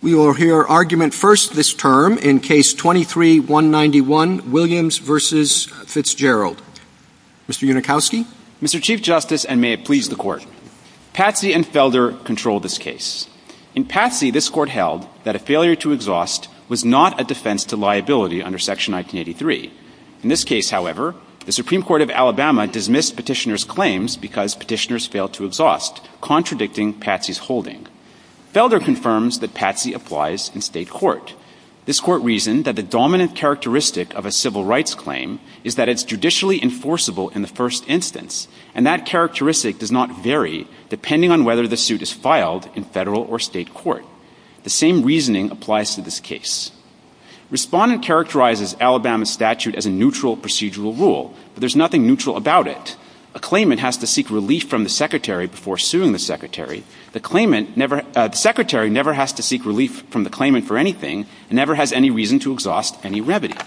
We will hear argument first this term in Case 23-191, Williams v. Fitzgerald. Mr. Unikowski? Mr. Chief Justice, and may it please the Court, Patsy and Felder control this case. In Patsy, this Court held that a failure to exhaust was not a defense to liability under Section 1983. In this case, however, the Supreme Court of Alabama dismissed Petitioner's claims because Petitioner's failed to exhaust, contradicting Patsy's holding. Felder confirms that Patsy applies in state court. This Court reasoned that the dominant characteristic of a civil rights claim is that it's judicially enforceable in the first instance, and that characteristic does not vary depending on whether the suit is filed in federal or state court. The same reasoning applies to this case. Respondent characterizes Alabama's statute as a neutral procedural rule, but there's nothing neutral about it. A claimant has to seek relief from the Secretary before suing the Secretary. The Secretary never has to seek relief from the claimant for anything, and never has any reason to exhaust any revenue.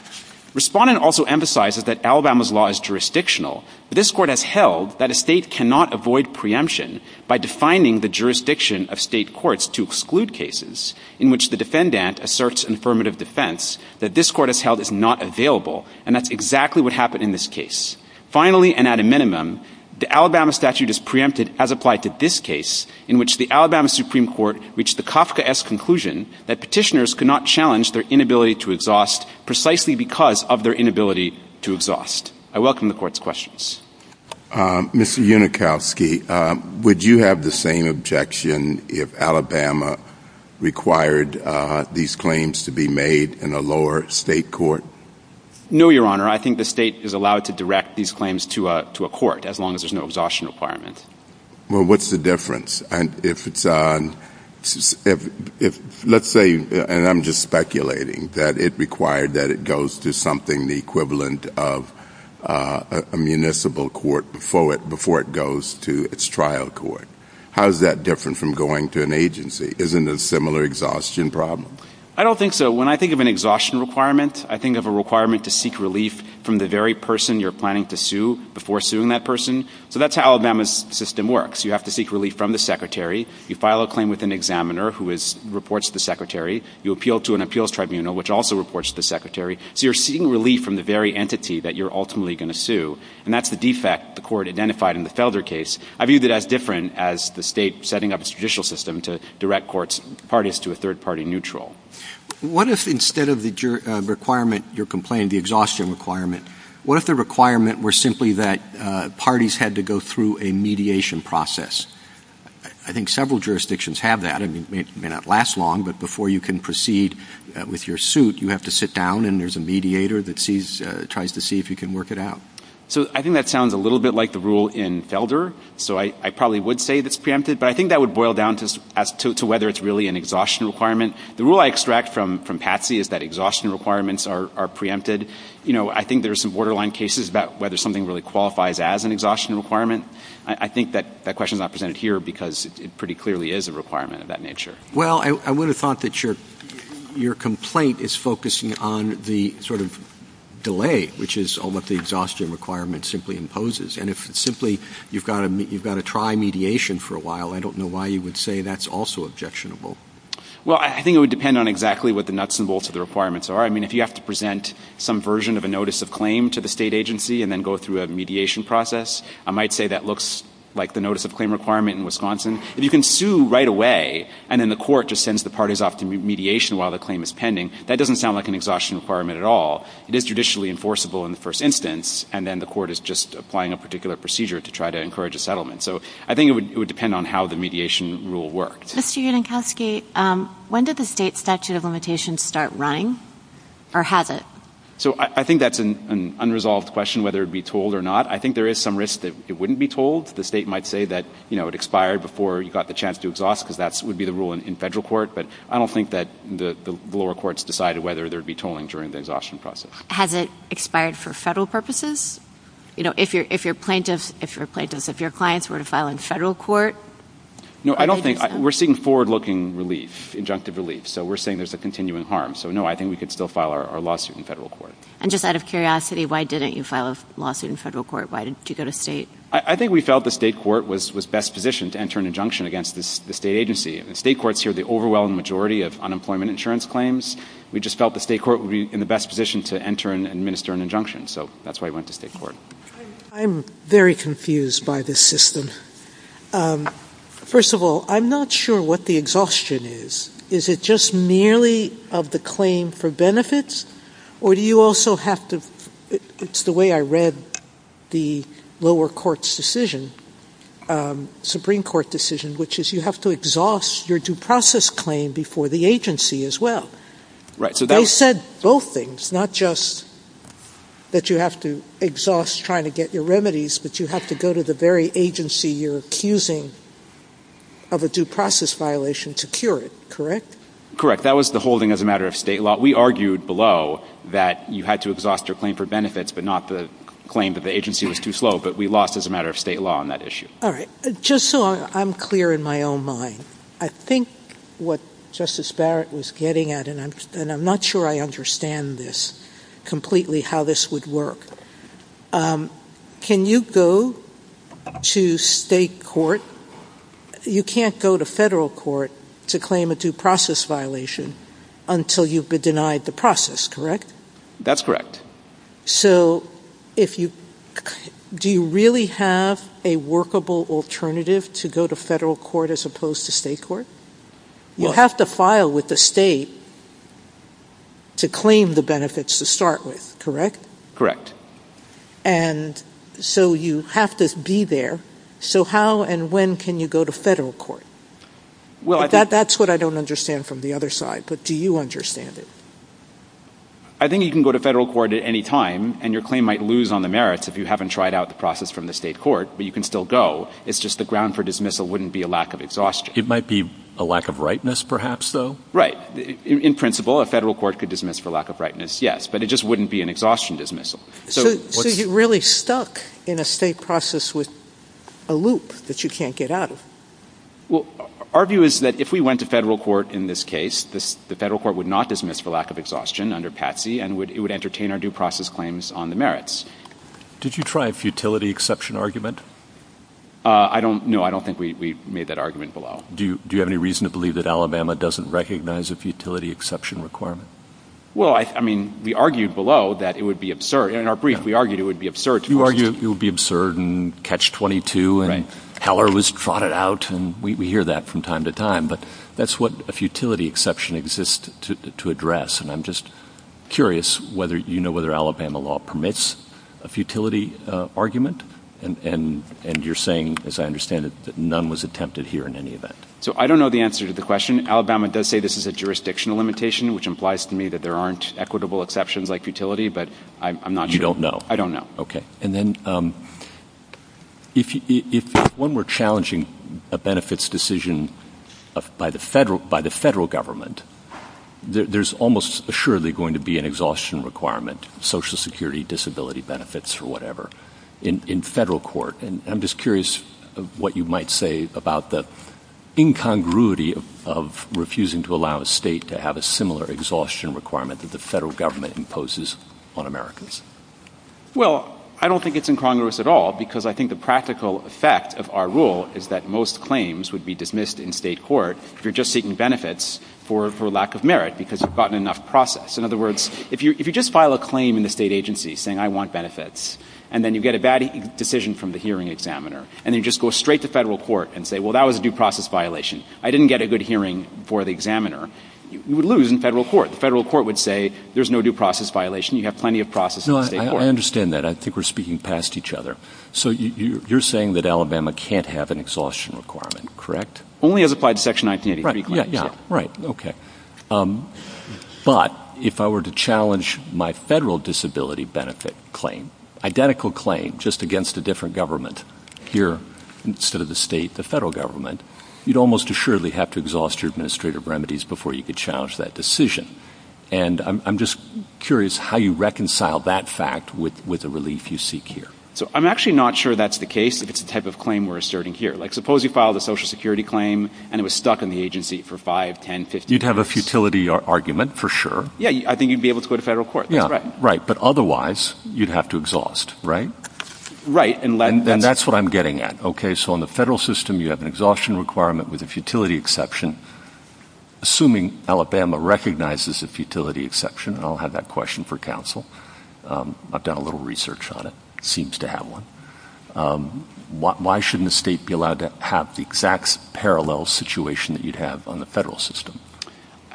Respondent also emphasizes that Alabama's law is jurisdictional. This Court has held that a state cannot avoid preemption by defining the jurisdiction of state courts to exclude cases, in which the defendant asserts an affirmative defense that this Court has held is not available, and that's exactly what happened in this case. Finally, and at a minimum, the Alabama statute is preempted as applied to this case, in which the Alabama Supreme Court reached the Kafkaesque conclusion that petitioners could not challenge their inability to exhaust precisely because of their inability to exhaust. I welcome the Court's questions. Mr. Unikowski, would you have the same objection if Alabama required these claims to be made in a lower state court? No, Your Honor. I think the state is allowed to direct these claims to a court, as long as there's no exhaustion requirement. Well, what's the difference if it's, let's say, and I'm just speculating, that it required that it goes to something the equivalent of a municipal court before it goes to its trial court. How is that different from going to an agency? Isn't it a similar exhaustion problem? I don't think so. When I think of an exhaustion requirement, I think of a requirement to seek relief from the very person you're planning to sue before suing that person. That's how Alabama's system works. You have to seek relief from the secretary. You file a claim with an examiner, who reports to the secretary. You appeal to an appeals tribunal, which also reports to the secretary, so you're seeking relief from the very entity that you're ultimately going to sue, and that's the defect the Court identified in the Felder case. I view that as different as the state setting up a judicial system to direct parties to a third-party neutral. What if instead of the requirement, your complaint, the exhaustion requirement, what if the requirement were simply that parties had to go through a mediation process? I think several jurisdictions have that. I mean, it may not last long, but before you can proceed with your suit, you have to sit down and there's a mediator that sees, tries to see if you can work it out. So I think that sounds a little bit like the rule in Felder, so I probably would say it's preempted, but I think that would boil down to whether it's really an exhaustion requirement. The rule I extract from Patsy is that exhaustion requirements are preempted. You know, I think there's some borderline cases about whether something really qualifies as an exhaustion requirement. I think that question's not presented here because it pretty clearly is a requirement of that nature. Well, I would have thought that your complaint is focusing on the sort of delay, which is what the exhaustion requirement simply imposes, and if simply you've got to try mediation for a while, I don't know why you would say that's also objectionable. Well, I think it would depend on exactly what the nuts and bolts of the requirements are. I mean, if you have to present some version of a notice of claim to the state agency and then go through a mediation process, I might say that looks like the notice of claim requirement in Wisconsin. If you can sue right away and then the court just sends the parties off to mediation while the claim is pending, that doesn't sound like an exhaustion requirement at all. It is judicially enforceable in the first instance, and then the court is just applying a particular procedure to try to encourage a settlement. So I think it would depend on how the mediation rule worked. Mr. Yanankowski, when did the state statute of limitations start running, or has it? So I think that's an unresolved question, whether it would be told or not. I think there is some risk that it wouldn't be told. The state might say that it expired before you got the chance to exhaust, because that would be the rule in federal court, but I don't think that the lower courts decided whether there would be tolling during the exhaustion process. Has it expired for federal purposes? If you're a plaintiff, if your clients were to file in federal court? No, I don't think. We're seeing forward-looking relief, injunctive relief, so we're seeing there's a continuing harm. So no, I think we could still file our lawsuit in federal court. And just out of curiosity, why didn't you file a lawsuit in federal court? Why did you go to state? I think we felt the state court was best positioned to enter an injunction against the state agency. If the state courts hear the overwhelming majority of unemployment insurance claims, we just felt the state court would be in the best position to enter and administer an injunction. So that's why we went to state court. I'm very confused by this system. First of all, I'm not sure what the exhaustion is. Is it just nearly of the claim for benefits, or do you also have to, it's the way I read the lower court's decision, Supreme Court decision, which is you have to exhaust your due process claim before the agency as well. They said both things, not just that you have to exhaust trying to get your remedies, but you have to go to the very agency you're accusing of a due process violation to cure it. Correct. That was the holding as a matter of state law. We argued below that you had to exhaust your claim for benefits, but not the claim that the agency was too slow, but we lost as a matter of state law on that issue. All right. Just so I'm clear in my own mind, I think what Justice Barrett was getting at, and I'm not sure I understand this completely how this would work. Can you go to state court, you can't go to federal court to claim a due process violation until you've denied the process, correct? That's correct. Do you really have a workable alternative to go to federal court as opposed to state court? You have to file with the state to claim the benefits to start with, correct? Correct. And so you have to be there. So how and when can you go to federal court? That's what I don't understand from the other side, but do you understand it? I think you can go to federal court at any time and your claim might lose on the merits if you haven't tried out the process from the state court, but you can still go. It's just the ground for dismissal wouldn't be a lack of exhaustion. It might be a lack of rightness perhaps though? Right. In principle, a federal court could dismiss for lack of rightness, yes, but it just wouldn't be an exhaustion dismissal. So you're really stuck in a state process with a loop that you can't get out of. Our view is that if we went to federal court in this case, the federal court would not dismiss for lack of exhaustion under Patsy and it would entertain our due process claims on the merits. Did you try a futility exception argument? I don't know. I don't think we made that argument below. Do you have any reason to believe that Alabama doesn't recognize a futility exception requirement? Well, I mean, we argued below that it would be absurd. In our brief, we argued it would be absurd. You argue it would be absurd and catch 22 and Heller was trotted out and we hear that from time to time, but that's what a futility exception exists to address and I'm just curious whether you know whether Alabama law permits a futility argument and you're saying, as I understand it, that none was attempted here in any event. So I don't know the answer to the question. Alabama does say this is a jurisdictional limitation, which implies to me that there aren't equitable exceptions like futility, but I'm not sure. I don't know. And then if when we're challenging a benefits decision by the federal government, there's almost assuredly going to be an exhaustion requirement, social security, disability benefits or whatever in federal court and I'm just curious what you might say about the incongruity of refusing to allow a state to have a similar exhaustion requirement that the federal government imposes on America's. Well, I don't think it's incongruous at all because I think the practical effect of our rule is that most claims would be dismissed in state court if you're just seeking benefits for lack of merit because you've gotten enough process. In other words, if you just file a claim in the state agency saying, I want benefits and then you get a bad decision from the hearing examiner and you just go straight to federal court and say, well, that was a due process violation. I didn't get a good hearing for the examiner, you would lose in federal court. Federal court would say, there's no due process violation. You have plenty of process. No, I understand that. I think we're speaking past each other. So you're saying that Alabama can't have an exhaustion requirement, correct? Only as applied to section 1983. Right. Yeah. Right. Okay. But if I were to challenge my federal disability benefit claim, identical claim just against a different government here instead of the state, the federal government, you'd almost assuredly have to exhaust your administrative remedies before you could challenge that decision. And I'm just curious how you reconcile that fact with the relief you seek here. So I'm actually not sure that's the case if it's the type of claim we're asserting here. Like suppose you filed a social security claim and it was stuck in the agency for five, 10, 15 years. You'd have a futility argument for sure. Yeah. I think you'd be able to go to federal court. Yeah. Right. But otherwise you'd have to exhaust, right? Right. And that's what I'm getting at. So in the federal system, you have an exhaustion requirement with a futility exception. Assuming Alabama recognizes a futility exception, and I'll have that question for counsel. I've done a little research on it, seems to have one. Why shouldn't the state be allowed to have the exact parallel situation that you'd have on the federal system?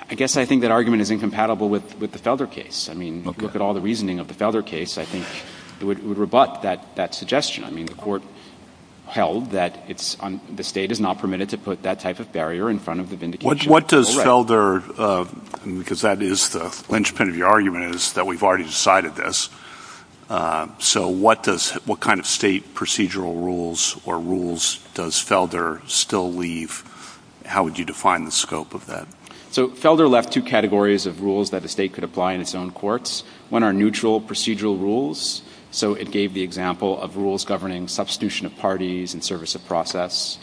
I guess I think that argument is incompatible with the Felder case. I mean, look at all the reasoning of the Felder case. I think it would rebut that suggestion. I mean, the court held that the state is not permitted to put that type of barrier in front of the vindication. What does Felder, because that is the linchpin of your argument is that we've already decided this. So what does, what kind of state procedural rules or rules does Felder still leave? How would you define the scope of that? So Felder left two categories of rules that the state could apply in its own courts. One are neutral procedural rules. So it gave the example of rules governing substitution of parties and service of process.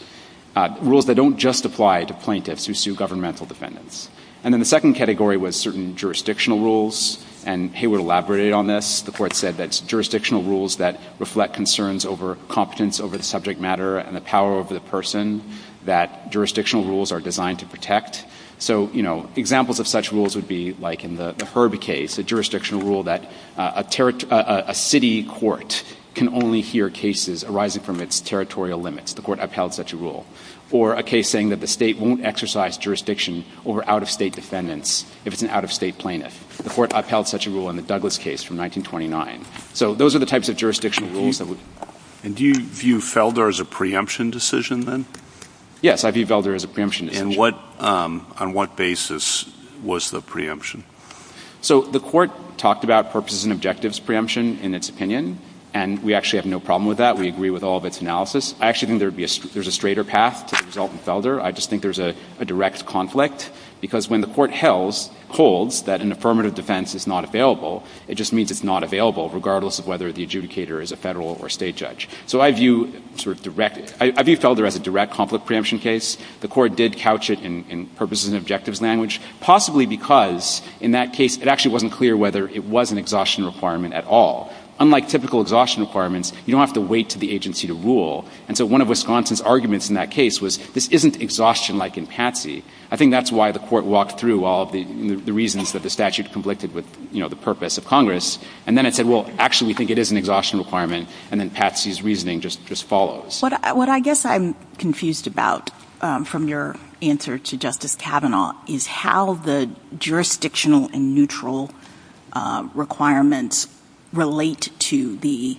Rules that don't justify to plaintiffs who sue governmental defendants. And then the second category was certain jurisdictional rules. And Hayward elaborated on this. The court said that jurisdictional rules that reflect concerns over competence over the subject matter and the power of the person, that jurisdictional rules are designed to So, you know, examples of such rules would be like in the Herbie case, a jurisdictional rule that a territory, a city court can only hear cases arising from its territorial limits. The court upheld such a rule. Or a case saying that the state won't exercise jurisdiction over out of state defendants if it's an out of state plaintiff. The court upheld such a rule in the Douglas case from 1929. So those are the types of jurisdictional rules that would. And do you view Felder as a preemption decision then? Yes. I view Felder as a preemption. And what, on what basis was the preemption? So the court talked about purposes and objectives preemption in its opinion. And we actually have no problem with that. We agree with all of its analysis. I actually think there would be, there's a straighter path to the result in Felder. I just think there's a direct conflict. Because when the court holds that an affirmative defense is not available, it just means it's not available regardless of whether the adjudicator is a federal or state judge. So I view sort of direct, I view Felder as a direct conflict preemption case. The court did couch it in purposes and objectives language, possibly because in that case it actually wasn't clear whether it was an exhaustion requirement at all. Unlike typical exhaustion requirements, you don't have to wait for the agency to rule. And so one of Wisconsin's arguments in that case was this isn't exhaustion like in Patsy. I think that's why the court walked through all the reasons that the statute conflicted with, you know, the purpose of Congress. And then it said, well, actually we think it is an exhaustion requirement. And then Patsy's reasoning just follows. What I guess I'm confused about from your answer to Justice Kavanaugh is how the jurisdictional and neutral requirements relate to the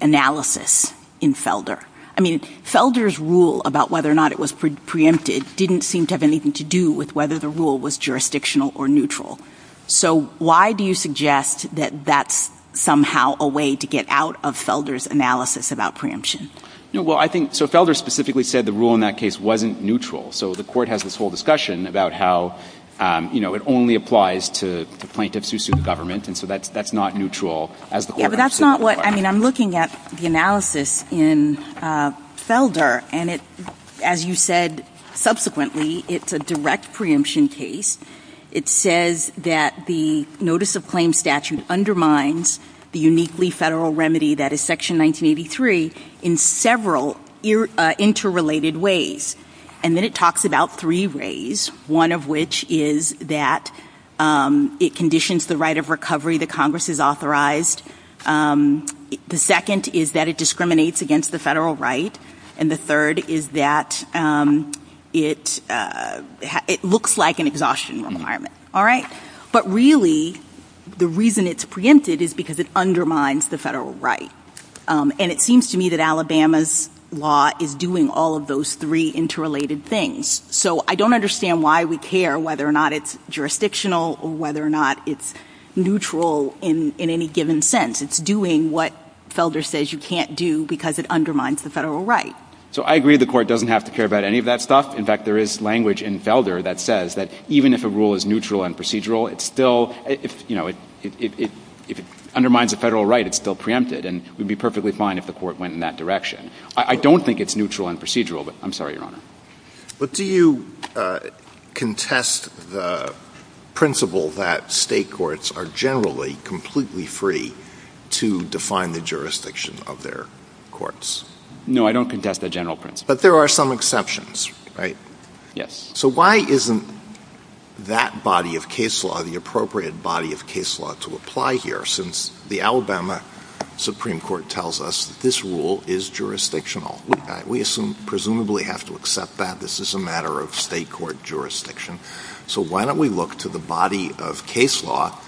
analysis in Felder. I mean, Felder's rule about whether or not it was preempted didn't seem to have anything to do with whether the rule was jurisdictional or neutral. So why do you suggest that that's somehow a way to get out of Felder's analysis about preemption? Well, I think so Felder specifically said the rule in that case wasn't neutral. So the court has this whole discussion about how, you know, it only applies to plaintiffs used to the government. And so that's not neutral. Yeah, but that's not what I mean, I'm looking at the analysis in Felder. And as you said, subsequently, it's a direct preemption case. It says that the notice of claim statute undermines the uniquely federal remedy that is Section 1983 in several interrelated ways. And then it talks about three ways, one of which is that it conditions the right of recovery that Congress has authorized. The second is that it discriminates against the federal right. And the third is that it looks like an exhaustion requirement, all right? But really, the reason it's preempted is because it undermines the federal right. And it seems to me that Alabama's law is doing all of those three interrelated things. So I don't understand why we care whether or not it's jurisdictional or whether or not it's neutral in any given sense. It's doing what Felder says you can't do because it undermines the federal right. So I agree the court doesn't have to care about any of that stuff. In fact, there is language in Felder that says that even if a rule is neutral and procedural, it's still, you know, if it undermines the federal right, it's still preempted. And we'd be perfectly fine if the court went in that direction. I don't think it's neutral and procedural, but I'm sorry, Your Honor. But do you contest the principle that state courts are generally completely free to define the jurisdiction of their courts? No, I don't contest the general principle. But there are some exceptions, right? Yes. So why isn't that body of case law, the appropriate body of case law to apply here since the Alabama Supreme Court tells us this rule is jurisdictional? We presumably have to accept that this is a matter of state court jurisdiction. So why don't we look to the body of case law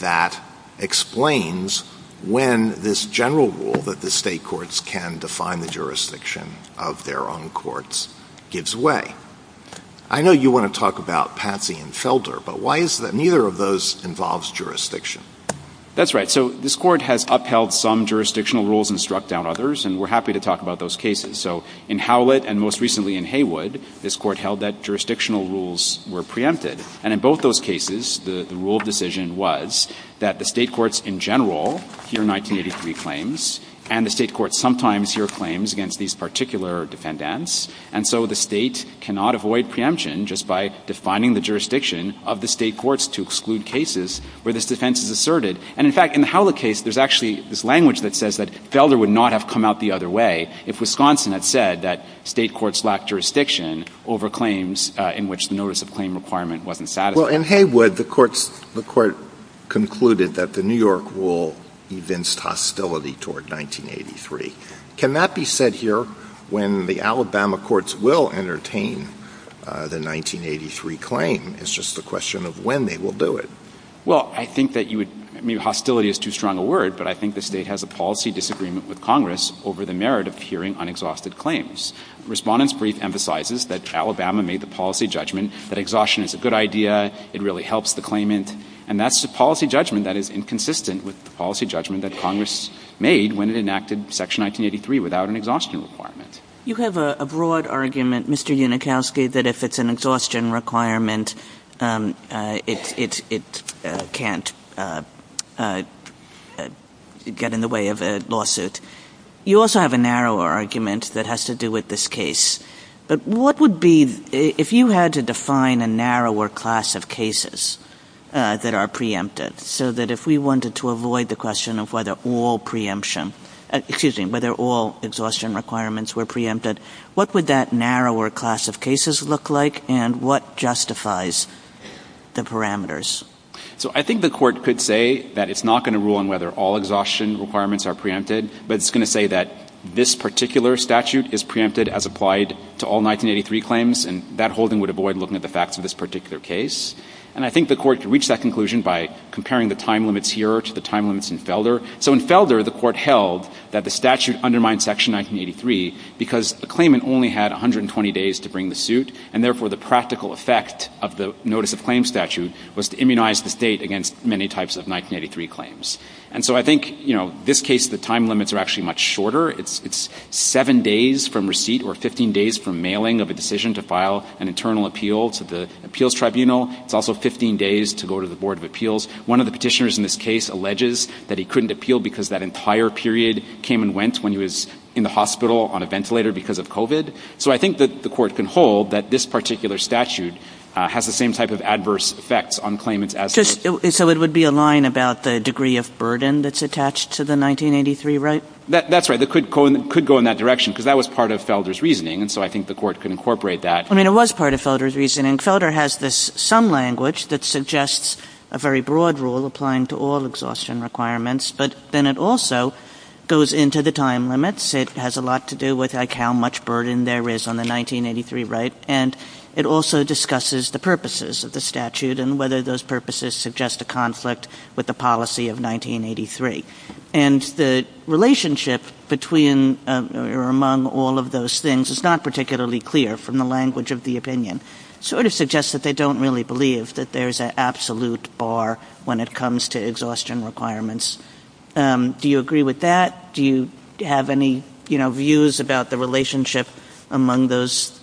that explains when this general rule that the state courts can define the jurisdiction of their own courts gives way. I know you want to talk about Patsy and Felder, but why is that neither of those involves jurisdiction? That's right. So this court has upheld some jurisdictional rules and struck down others, and we're happy to talk about those cases. So in Howlett and most recently in Haywood, this court held that jurisdictional rules were preempted. And in both those cases, the rule of decision was that the state courts in general hear 1983 claims and the state courts sometimes hear claims against these particular defendants. And so the state cannot avoid preemption just by defining the jurisdiction of the state courts to exclude cases where this defense is asserted. And in fact, in the Howlett case, there's actually this language that says that Felder would not have come out the other way if Wisconsin had said that state courts lack jurisdiction over claims in which the notice of claim requirement wasn't satisfied. Well, in Haywood, the court concluded that the New York rule evinced hostility toward 1983. Can that be said here when the Alabama courts will entertain the 1983 claim? It's just a question of when they will do it. Well, I think that you would—hostility is too strong a word, but I think the state has a policy disagreement with Congress over the merit of hearing unexhausted claims. Respondents' brief emphasizes that Alabama made the policy judgment that exhaustion is a good idea, it really helps the claimant, and that's a policy judgment that is inconsistent with the policy judgment that Congress made when it enacted Section 1983 without an exhaustion requirement. You have a broad argument, Mr. Unikowsky, that if it's an exhaustion requirement, it can't get in the way of a lawsuit. You also have a narrower argument that has to do with this case, but what would be—if you had to define a narrower class of cases that are preempted so that if we wanted to avoid the question of whether all exhaustion requirements were preempted, what would that narrower class of cases look like, and what justifies the parameters? So I think the Court could say that it's not going to rule on whether all exhaustion requirements are preempted, but it's going to say that this particular statute is preempted as applied to all 1983 claims, and that holding would avoid looking at the facts of this particular case. And I think the Court could reach that conclusion by comparing the time limits here to the time limits in Felder. So in Felder, the Court held that the statute undermined Section 1983 because the claimant only had 120 days to bring the suit, and therefore the practical effect of the Notice of Claims statute was to immunize the state against many types of 1983 claims. And so I think, you know, this case, the time limits are actually much shorter. It's seven days from receipt or 15 days from mailing of a decision to file an internal appeal to the Appeals Tribunal. It's also 15 days to go to the Board of Appeals. One of the petitioners in this case alleges that he couldn't appeal because that entire period came and went when he was in the hospital on a ventilator because of COVID. So I think that the Court can hold that this particular statute has the same type of adverse effects on claimants as — So it would be a line about the degree of burden that's attached to the 1983, right? That's right. It could go in that direction, because that was part of Felder's reasoning, and so I think the Court could incorporate that. I mean, it was part of Felder's reasoning. Felder has this — some language that suggests a very broad rule applying to all exhaustion requirements, but then it also goes into the time limits. It has a lot to do with, like, how much burden there is on the 1983, right? And it also discusses the purposes of the statute and whether those purposes suggest a conflict with the policy of 1983. And the relationship between or among all of those things is not particularly clear from the language of the opinion. It sort of suggests that they don't really believe that there's an absolute bar when it comes to exhaustion requirements. Do you agree with that? Do you have any, you know, views about the relationship among those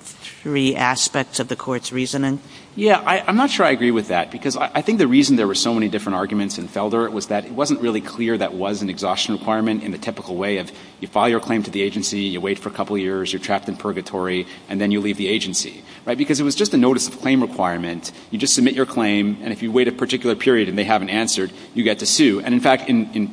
three aspects of the Court's reasoning? Yeah. I'm not sure I agree with that, because I think the reason there were so many different arguments in Felder was that it wasn't really clear that was an exhaustion requirement in the typical way of you file your claim to the agency, you wait for a couple of years, you're trapped in purgatory, and then you leave the agency, right? Because it was just a notice of claim requirement. You just submit your claim, and if you wait a particular period and they haven't answered, you get to sue. And in fact, in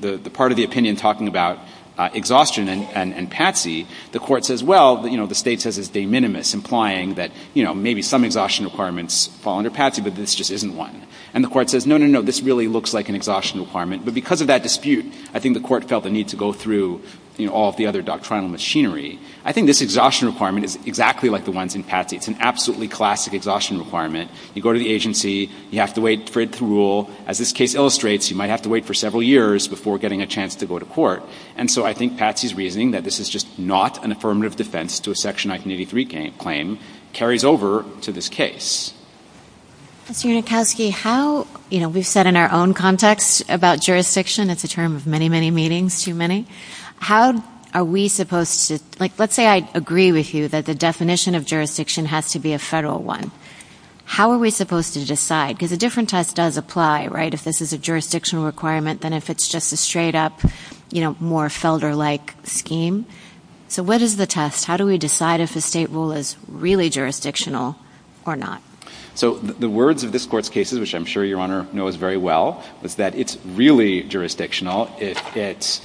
the part of the opinion talking about exhaustion and Patsy, the Court says, well, you know, the state says it's de minimis, implying that, you know, maybe some exhaustion requirements fall under Patsy, but this just isn't one. And the Court says, no, no, no, this really looks like an exhaustion requirement. But because of that dispute, I think the Court felt the need to go through, you know, all of the other doctrinal machinery. I think this exhaustion requirement is exactly like the ones in Patsy. It's an absolutely classic exhaustion requirement. You go to the agency, you have to wait for it to rule. As this case illustrates, you might have to wait for several years before getting a chance to go to court. And so I think Patsy's reasoning that this is just not an affirmative defense to a Section 1983 claim carries over to this case. Ms. Yernikowsky, how, you know, we've said in our own context about jurisdiction, it's a term of many, many meetings, too many. How are we supposed to, like, let's say I agree with you that the definition of jurisdiction has to be a federal one. How are we supposed to decide? Because a different test does apply, right, if this is a jurisdictional requirement than if it's just a straight-up, you know, more Felder-like scheme. So what is the test? How do we decide if the state rule is really jurisdictional or not? So the words of this Court's cases, which I'm sure Your Honor knows very well, is that it's really jurisdictional. It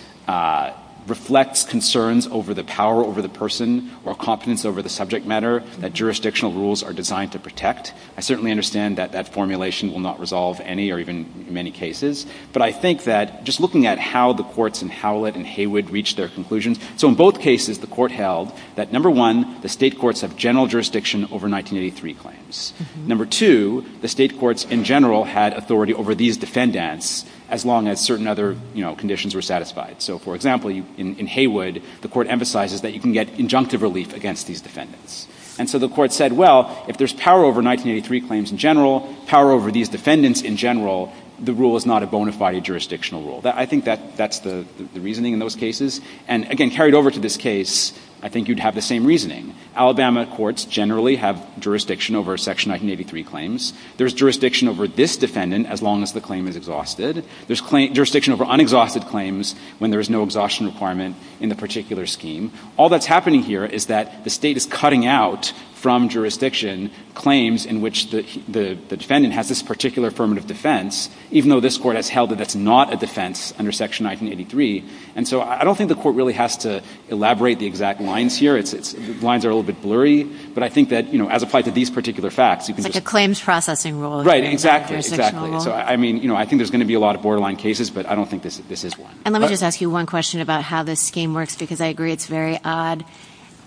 reflects concerns over the power over the person or competence over the subject matter that jurisdictional rules are designed to protect. I certainly understand that that formulation will not resolve any or even many cases. But I think that just looking at how the courts in Howlett and Haywood reached their conclusions, so in both cases the Court held that, number one, the state courts have general jurisdiction over 1983 claims. Number two, the state courts in general had authority over these defendants as long as certain other, you know, conditions were satisfied. So for example, in Haywood, the Court emphasizes that you can get injunctive relief against these defendants. And so the Court said, well, if there's power over 1983 claims in general, power over these defendants in general, the rule is not a bona fide jurisdictional rule. I think that's the reasoning in those cases. And again, carried over to this case, I think you'd have the same reasoning. Alabama courts generally have jurisdiction over Section 1983 claims. There's jurisdiction over this defendant as long as the claim is exhausted. There's jurisdiction over unexhausted claims when there is no exhaustion requirement in the particular scheme. All that's happening here is that the state is cutting out from jurisdiction claims in which the defendant has this particular affirmative defense, even though this Court has held that that's not a defense under Section 1983. And so I don't think the Court really has to elaborate the exact lines here. Its lines are a little bit blurry. But I think that, you know, as applied to these particular facts, you can just – But the claims processing rule is a jurisdictional rule. Right. Exactly. So I mean, you know, I think there's going to be a lot of borderline cases, but I don't think this is one. And let me just ask you one question about how this scheme works, because I agree it's very odd.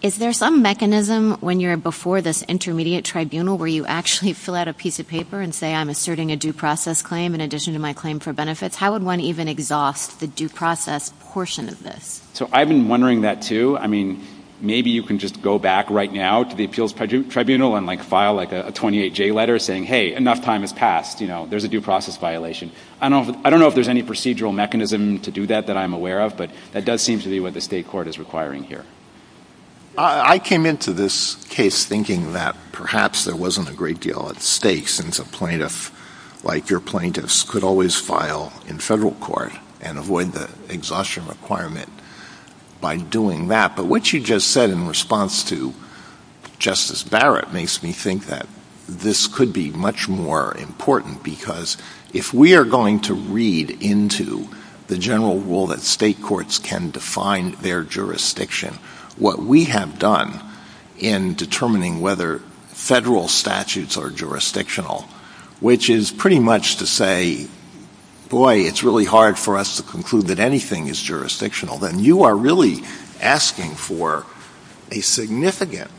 Is there some mechanism when you're before this intermediate tribunal where you actually fill out a piece of paper and say, I'm asserting a due process claim in addition to my claim for benefits? How would one even exhaust the due process portion of this? So I've been wondering that too. I mean, maybe you can just go back right now to the appeals tribunal and like file like a 28-J letter saying, hey, enough time has passed, you know, there's a due process violation. I don't know if there's any procedural mechanism to do that that I'm aware of, but that does seem to be what the state court is requiring here. I came into this case thinking that perhaps there wasn't a great deal at stake since a plaintiff like your plaintiffs could always file in federal court and avoid the exhaustion requirement by doing that. But what you just said in response to Justice Barrett makes me think that this could be much more important, because if we are going to read into the general rule that state courts can define their jurisdiction, what we have done in determining whether federal statutes are jurisdictional, which is pretty much to say, boy, it's really hard for us to conclude that anything is jurisdictional, then you are really asking for a significant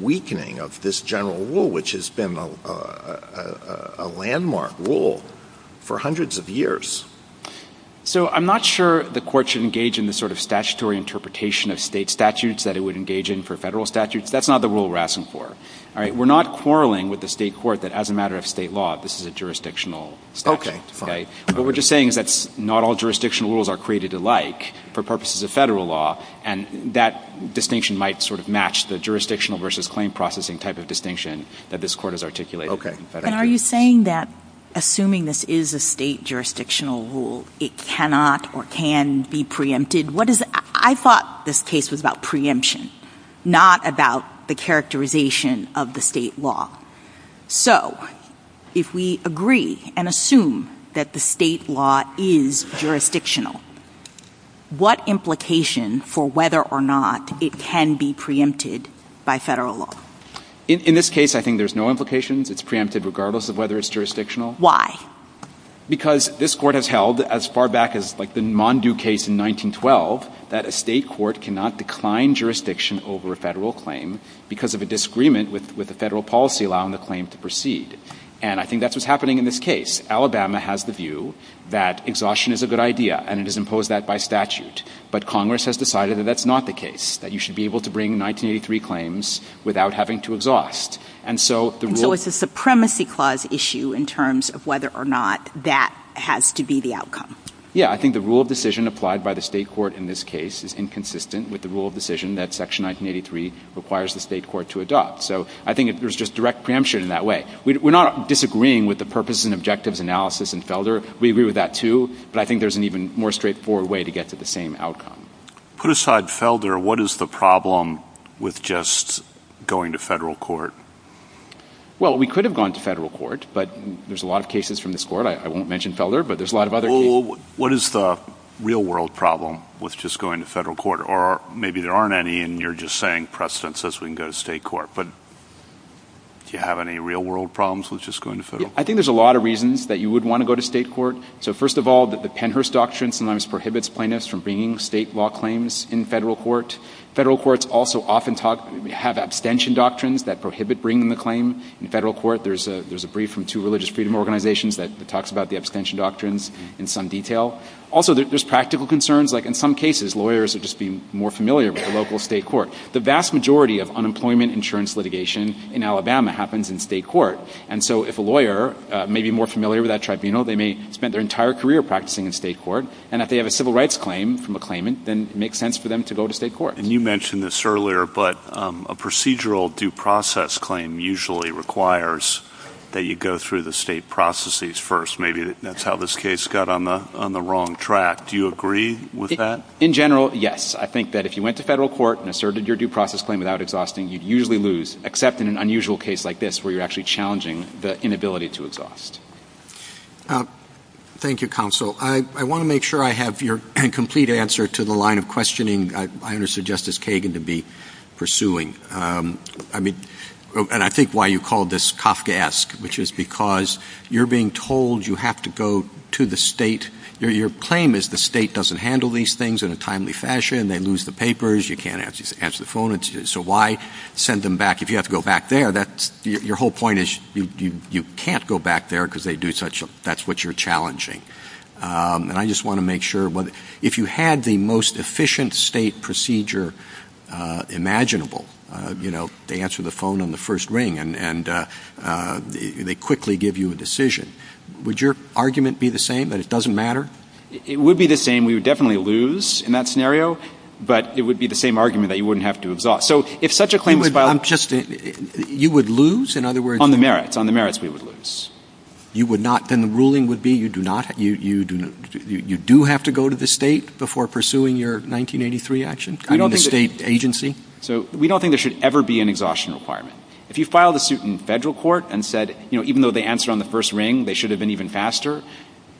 weakening of this general rule, which has been a landmark rule for hundreds of years. So I'm not sure the court should engage in the sort of statutory interpretation of state statutes that it would engage in for federal statutes. That's not the rule we're asking for. All right? We're not quarreling with the state court that as a matter of state law, this is a jurisdictional statute, right? But what we're just saying is that not all jurisdictional rules are created alike for purposes of federal law, and that distinction might sort of match the jurisdictional versus claim processing type of distinction that this court has articulated. And are you saying that assuming this is a state jurisdictional rule, it cannot or can be preempted? What is it? I thought this case was about preemption, not about the characterization of the state law. So if we agree and assume that the state law is jurisdictional, what implication for whether or not it can be preempted by federal law? In this case, I think there's no implications. It's preempted regardless of whether it's jurisdictional. Why? Because this court has held, as far back as like the Mondew case in 1912, that a state court cannot decline jurisdiction over a federal claim because of a disagreement with the federal policy law on the claim to proceed. And I think that's what's happening in this case. Alabama has the view that exhaustion is a good idea, and it has imposed that by statute. But Congress has decided that that's not the case, that you should be able to bring 1983 claims without having to exhaust. And so the rule... And so it's a supremacy clause issue in terms of whether or not that has to be the outcome. Yeah. I think the rule of decision applied by the state court in this case is inconsistent with the rule of decision that Section 1983 requires the state court to adopt. So I think there's just direct preemption in that way. We're not disagreeing with the purpose and objectives analysis in Felder. We agree with that too. But I think there's an even more straightforward way to get to the same outcome. Put aside Felder, what is the problem with just going to federal court? Well, we could have gone to federal court, but there's a lot of cases from this court. I won't mention Felder, but there's a lot of other... What is the real world problem with just going to federal court? Or maybe there aren't any, and you're just saying, perhaps since this, we can go to state court. But do you have any real world problems with just going to federal? I think there's a lot of reasons that you would want to go to state court. So first of all, the Pennhurst Doctrine sometimes prohibits plaintiffs from bringing state law claims in federal court. Federal courts also often have abstention doctrines that prohibit bringing the claim in federal court. There's a brief from two religious freedom organizations that talks about the abstention doctrines in some detail. Also there's practical concerns, like in some cases, lawyers are just being more familiar with the local state court. The vast majority of unemployment insurance litigation in Alabama happens in state court. And so if a lawyer may be more familiar with that tribunal, they may spend their entire career practicing in state court. And if they have a civil rights claim from a claimant, then it makes sense for them to go to state court. And you mentioned this earlier, but a procedural due process claim usually requires that you go through the state processes first. Maybe that's how this case got on the wrong track. Do you agree with that? In general, yes. I think that if you went to federal court and asserted your due process claim without exhausting, you'd usually lose, except in an unusual case like this where you're actually challenging the inability to exhaust. Thank you, counsel. I want to make sure I have your complete answer to the line of questioning I understand Justice Kagan to be pursuing. I mean, and I think why you called this Kafkaesque, which is because you're being told you have to go to the state. Your claim is the state doesn't handle these things in a timely fashion. They lose the papers. You can't answer the phone. So why send them back if you have to go back there? Your whole point is you can't go back there because they do such a that's what you're challenging. And I just want to make sure if you had the most efficient state procedure imaginable, you know, they answer the phone on the first ring and they quickly give you a decision. Would your argument be the same that it doesn't matter? It would be the same. We would definitely lose in that scenario. But it would be the same argument that you wouldn't have to exhaust. So if such a claim is filed... You would lose? In other words... On the merits. On the merits, we would lose. You would not... Then the ruling would be you do have to go to the state before pursuing your 1983 action in the state agency? So we don't think there should ever be an exhaustion requirement. If you file the suit in federal court and said, you know, even though they answer on the first ring, they should have been even faster.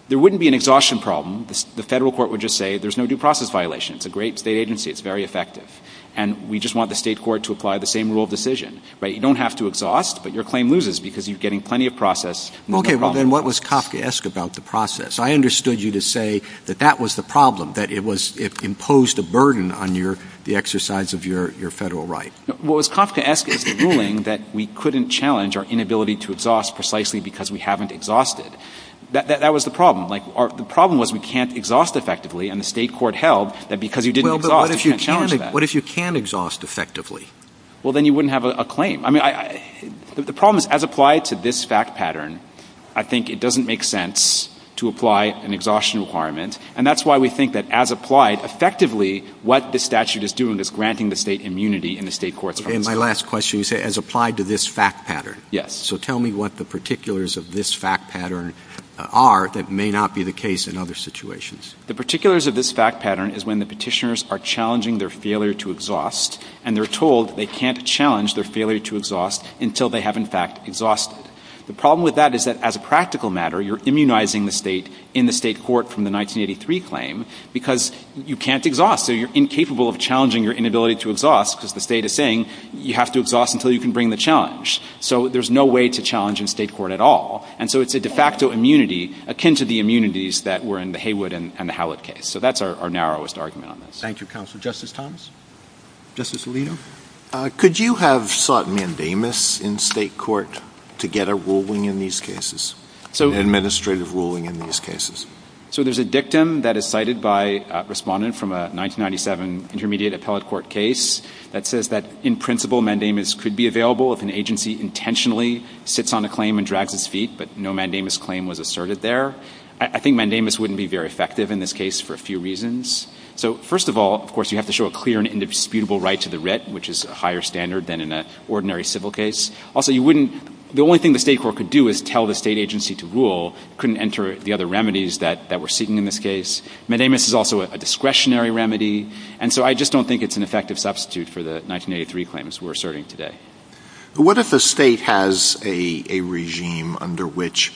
There wouldn't be an exhaustion problem. The federal court would just say there's no due process violation. It's a great state agency. It's very effective. And we just want the state court to apply the same rule of decision, right? You don't have to exhaust, but your claim loses because you're getting plenty of process. Okay, but then what was Kafkaesque about the process? I understood you to say that that was the problem, that it imposed a burden on the exercise of your federal right. What Kafkaesque is doing is that we couldn't challenge our inability to exhaust precisely because we haven't exhausted. That was the problem. The problem was we can't exhaust effectively, and the state court held that because you didn't exhaust, you can't challenge that. What if you can exhaust effectively? Well then you wouldn't have a claim. The problem is, as applied to this fact pattern, I think it doesn't make sense to apply an exhaustion requirement. And that's why we think that as applied, effectively, what the statute is doing is granting the state immunity in the state court's process. And my last question is, as applied to this fact pattern, so tell me what the particulars of this fact pattern are that may not be the case in other situations. The particulars of this fact pattern is when the petitioners are challenging their failure to exhaust, and they're told they can't challenge their failure to exhaust until they have, in fact, exhausted. The problem with that is that, as a practical matter, you're immunizing the state in the state court from the 1983 claim because you can't exhaust, so you're incapable of challenging your inability to exhaust because the state is saying you have to exhaust until you can bring the challenge. So there's no way to challenge in state court at all. And so it's a de facto immunity akin to the immunities that were in the Haywood and the Hallett case. So that's our narrowest argument on this. Thank you, Counselor. Justice Thomas? Justice Alito? Could you have sought mandamus in state court to get a ruling in these cases, an administrative ruling in these cases? So there's a dictum that is cited by a respondent from a 1997 intermediate appellate court case that says that, in principle, mandamus could be available if an agency intentionally sits on a claim and drags its feet, but no mandamus claim was asserted there. I think mandamus wouldn't be very effective in this case for a few reasons. So first of all, of course, you have to show a clear and indisputable right to the writ, which is a higher standard than in that ordinary civil case. Also, you wouldn't, the only thing the state court could do is tell the state agency to rule, couldn't enter the other remedies that were sitting in this case. Mandamus is also a discretionary remedy. And so I just don't think it's an effective substitute for the 1983 claims we're asserting today. What if the state has a regime under which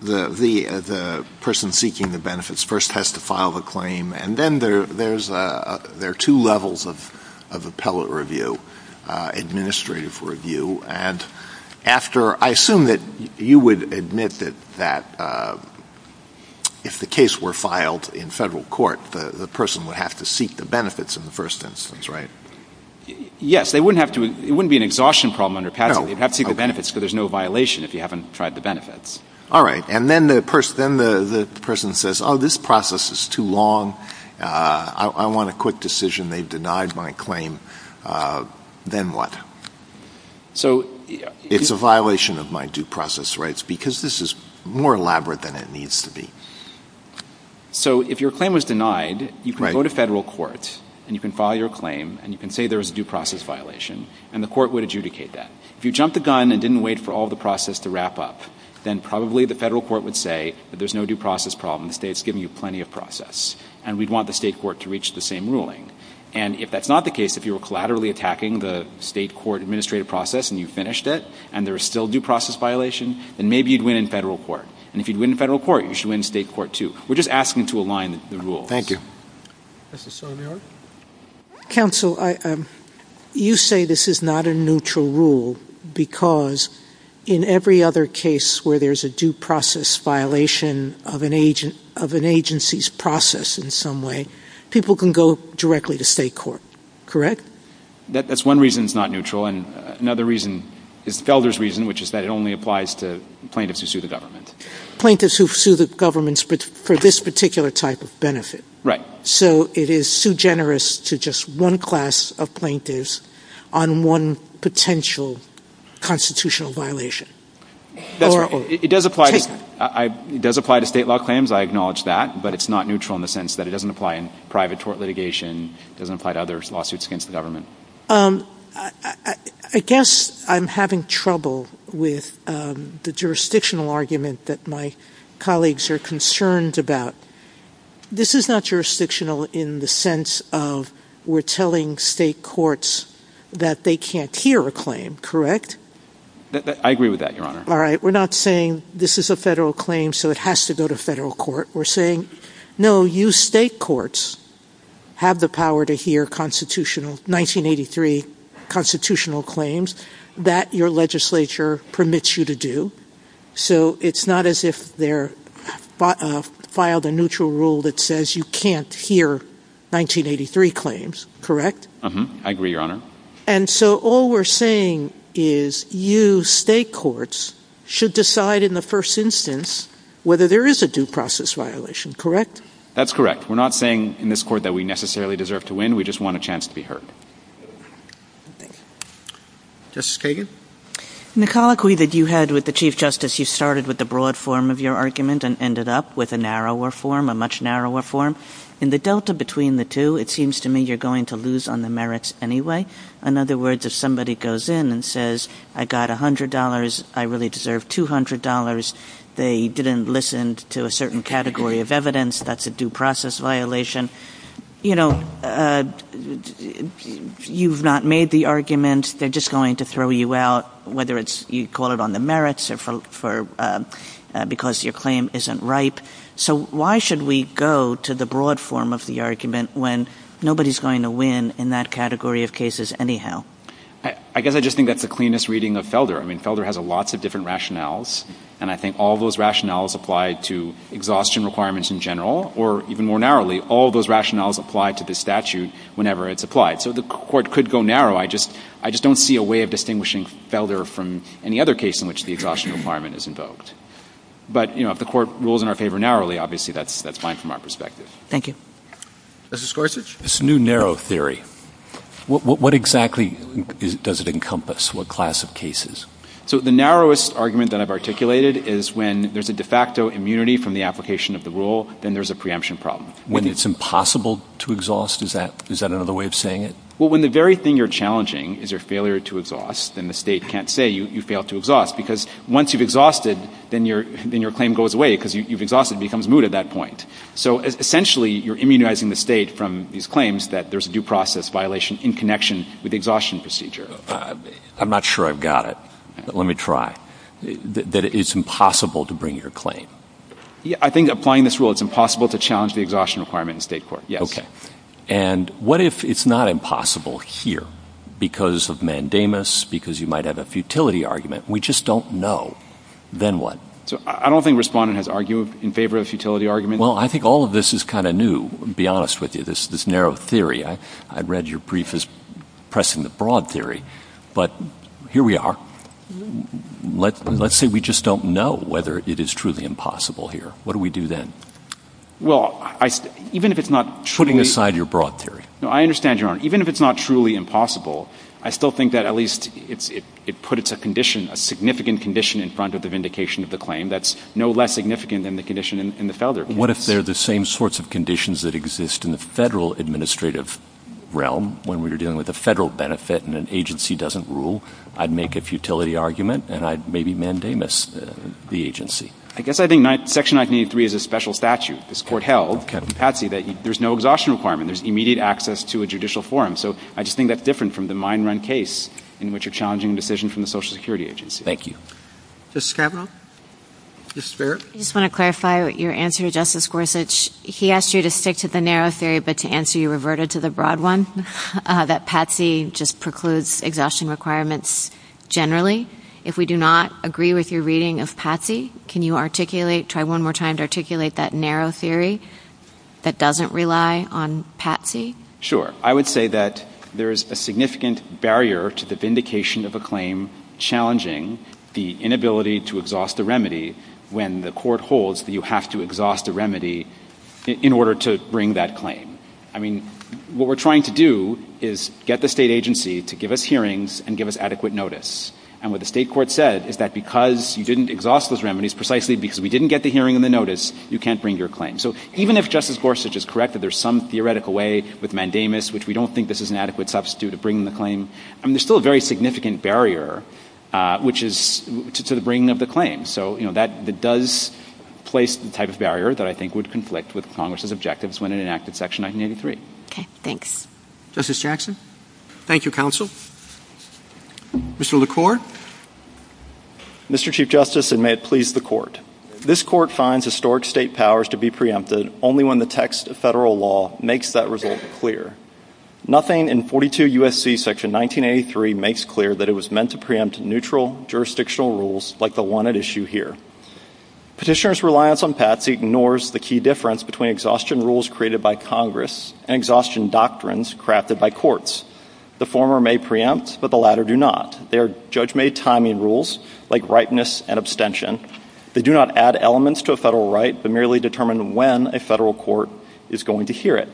the person seeking the benefits first has to file a claim, and then there are two levels of appellate review, administrative review, and after, I assume that you would admit that if the case were filed in federal court, the person would have to seek the benefits in the first instance, right? Yes, they wouldn't have to, it wouldn't be an exhaustion problem under patent. They'd have to seek the benefits, but there's no violation if you haven't tried the benefits. All right. And then the person, then the person says, oh, this process is too long. I want a quick decision. They denied my claim. Then what? So it's a violation of my due process rights because this is more elaborate than it needs to be. So if your claim was denied, you can go to federal courts and you can file your claim and you can say there's a due process violation and the court would adjudicate that. If you jumped the gun and didn't wait for all the process to wrap up, then probably the federal court would say that there's no due process problem. The state's giving you plenty of process and we'd want the state court to reach the same ruling. And if that's not the case, if you were collaterally attacking the state court administrative process and you finished it and there's still due process violation, then maybe you'd win in federal court. And if you'd win in federal court, you should win in state court too. We're just asking to align the rules. Thank you. Counsel, you say this is not a neutral rule because in every other case where there's a due process violation of an agency's process in some way, people can go directly to state court. Correct? That's one reason it's not neutral. And another reason is Felder's reason, which is that it only applies to plaintiffs who sue the government. Plaintiffs who sue the government for this particular type of benefit. So it is so generous to just one class of plaintiffs on one potential constitutional violation. It does apply to state law claims, I acknowledge that, but it's not neutral in the sense that it doesn't apply in private tort litigation, doesn't apply to other lawsuits against the I guess I'm having trouble with the jurisdictional argument that my colleagues are concerned about. This is not jurisdictional in the sense of we're telling state courts that they can't hear a claim. Correct? I agree with that, Your Honor. All right. We're not saying this is a federal claim, so it has to go to federal court. We're saying, no, you state courts have the power to hear 1983 constitutional claims that your legislature permits you to do. So it's not as if they filed a neutral rule that says you can't hear 1983 claims. Correct? I agree, Your Honor. And so all we're saying is you state courts should decide in the first instance whether there is a due process violation. That's correct. We're not saying in this court that we necessarily deserve to win. We just want a chance to be heard. Thank you. Justice Kagan? In the colloquy that you had with the Chief Justice, you started with the broad form of your argument and ended up with a narrower form, a much narrower form. In the delta between the two, it seems to me you're going to lose on the merits anyway. In other words, if somebody goes in and says, I got $100, I really deserve $200, they didn't listen to a certain category of evidence, that's a due process violation, you know, you've not made the argument, they're just going to throw you out, whether you call it on the merits or because your claim isn't ripe. So why should we go to the broad form of the argument when nobody's going to win in that category of cases anyhow? I guess I just think that's the cleanest reading of Felder. I mean, Felder has lots of different rationales, and I think all those rationales apply to exhaustion requirements in general, or even more narrowly, all those rationales apply to the statute whenever it's applied. So the court could go narrow. I just don't see a way of distinguishing Felder from any other case in which the exhaustion requirement is invoked. But, you know, if the court rules in our favor narrowly, obviously that's fine from our perspective. Thank you. Justice Gorsuch? This new narrow theory, what exactly does it encompass? What class of cases? So the narrowest argument that I've articulated is when there's a de facto immunity from the application of the rule, then there's a preemption problem. When it's impossible to exhaust, is that another way of saying it? Well, when the very thing you're challenging is your failure to exhaust, then the state can't say you failed to exhaust, because once you've exhausted, then your claim goes away, because you've exhausted, it becomes moot at that point. So essentially, you're immunizing the state from these claims that there's a due process violation in connection with the exhaustion procedure. I'm not sure I've got it, but let me try, that it's impossible to bring your claim. I think applying this rule, it's impossible to challenge the exhaustion requirement in state court. Yes. And what if it's not impossible here, because of mandamus, because you might have a futility argument? We just don't know. Then what? So I don't think Respondent has argued in favor of the futility argument. Well, I think all of this is kind of new, to be honest with you, this narrow theory. I read your brief as pressing the broad theory, but here we are. Let's say we just don't know whether it is truly impossible here. What do we do then? Well, even if it's not truly... Putting aside your broad theory. No, I understand, Your Honor. Even if it's not truly impossible, I still think that at least it puts a condition, a significant condition in front of the vindication of the claim that's no less significant than the condition in the feather. What if they're the same sorts of conditions that exist in the federal administrative realm when we're dealing with a federal benefit and an agency doesn't rule? I'd make a futility argument and I'd maybe mandamus the agency. I guess I think Section 983 is a special statute. This court held, Captain Patsey, that there's no exhaustion requirement. There's immediate access to a judicial forum. So I just think that's different from the mine run case in which you're challenging a decision from the Social Security Agency. Thank you. Justice Kavanaugh? Justice Barrett? I just want to clarify your answer to Justice Gorsuch. He asked you to stick to the narrow theory, but to answer, you reverted to the broad one, that Patsey just precludes exhaustion requirements generally. If we do not agree with your reading of Patsey, can you articulate, try one more time to articulate that narrow theory that doesn't rely on Patsey? Sure. I would say that there's a significant barrier to the vindication of a claim challenging the inability to exhaust the remedy when the court holds that you have to exhaust the remedy in order to bring that claim. I mean, what we're trying to do is get the state agency to give us hearings and give us adequate notice. And what the state court said is that because you didn't exhaust those remedies precisely because we didn't get the hearing and the notice, you can't bring your claim. So even if Justice Gorsuch is correct that there's some theoretical way with mandamus, which we don't think this is an adequate substitute to bring the claim, I mean, there's still a very significant barrier, which is to the bringing of the claim. So that does place the type of barrier that I think would conflict with Congress's objectives when it enacted Section 1983. Okay. Thanks. Justice Jackson. Thank you, counsel. Mr. LaCour. Mr. Chief Justice, and may it please the court. This court finds historic state powers to be preempted only when the text of federal law makes that result clear. Nothing in 42 U.S.C. Section 1983 makes clear that it was meant to preempt neutral jurisdictional rules like the one at issue here. Petitioner's reliance on PATSY ignores the key difference between exhaustion rules created by Congress and exhaustion doctrines crafted by courts. The former may preempt, but the latter do not. They are judge-made timing rules like ripeness and abstention. They do not add elements to a federal right, but merely determine when a federal court is going to hear it.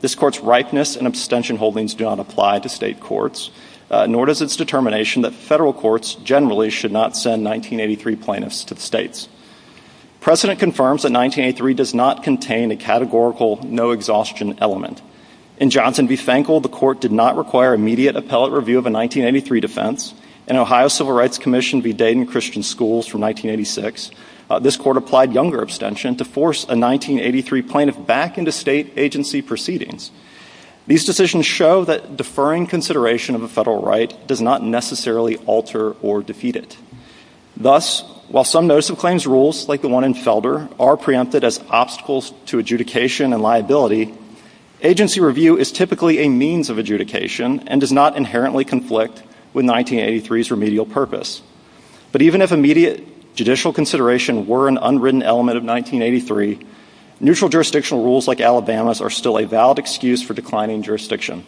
This court's ripeness and abstention holdings do not apply to state courts, nor does its determination that federal courts generally should not send 1983 plaintiffs to the states. Precedent confirms that 1983 does not contain a categorical no-exhaustion element. In Johnson v. Fankel, the court did not require immediate appellate review of a 1983 defense. In Ohio Civil Rights Commission v. Dayton Christian Schools from 1986, this court applied younger abstention to force a 1983 plaintiff back into state agency proceedings. These decisions show that deferring consideration of a federal right does not necessarily alter or defeat it. Thus, while some notice of claims rules, like the one in Felder, are preempted as obstacles to adjudication and liability, agency review is typically a means of adjudication and does not inherently conflict with 1983's remedial purpose. But even if immediate judicial consideration were an unwritten element of 1983, neutral jurisdictional rules like Alabama's are still a valid excuse for declining jurisdiction.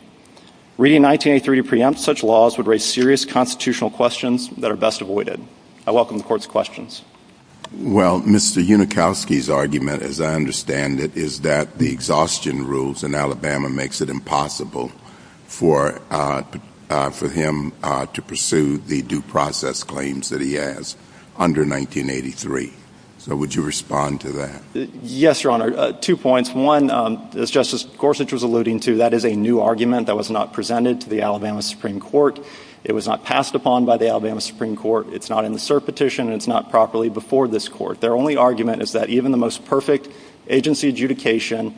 Reading 1983 to preempt such laws would raise serious constitutional questions that are best avoided. I welcome the court's questions. Well, Mr. Unikowski's argument, as I understand it, is that the exhaustion rules in Alabama makes it impossible for him to pursue the due process claims that he has under 1983. So would you respond to that? Yes, Your Honor. Two points. One, as Justice Gorsuch was alluding to, that is a new argument that was not presented to the Alabama Supreme Court. It was not passed upon by the Alabama Supreme Court. It's not in the cert petition. It's not properly before this court. Their only argument is that even the most perfect agency adjudication,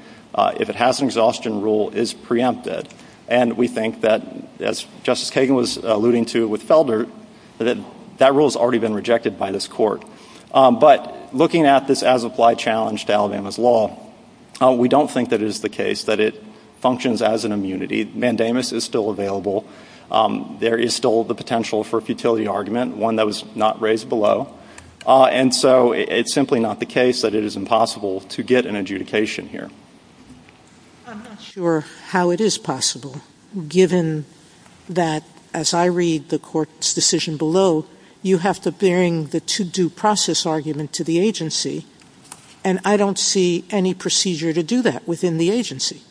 if it has an exhaustion rule, is preempted. And we think that, as Justice Kagan was alluding to with Felder, that that rule has already been rejected by this court. But looking at this as-applied challenge to Alabama's law, we don't think that it is the case that it functions as an immunity. Mandamus is still available. There is still the potential for a futility argument, one that was not raised below. And so it's simply not the case that it is impossible to get an adjudication here. I'm not sure how it is possible, given that, as I read the court's decision below, you have to bring the to-do process argument to the agency, and I don't see any procedure to do that within the agency.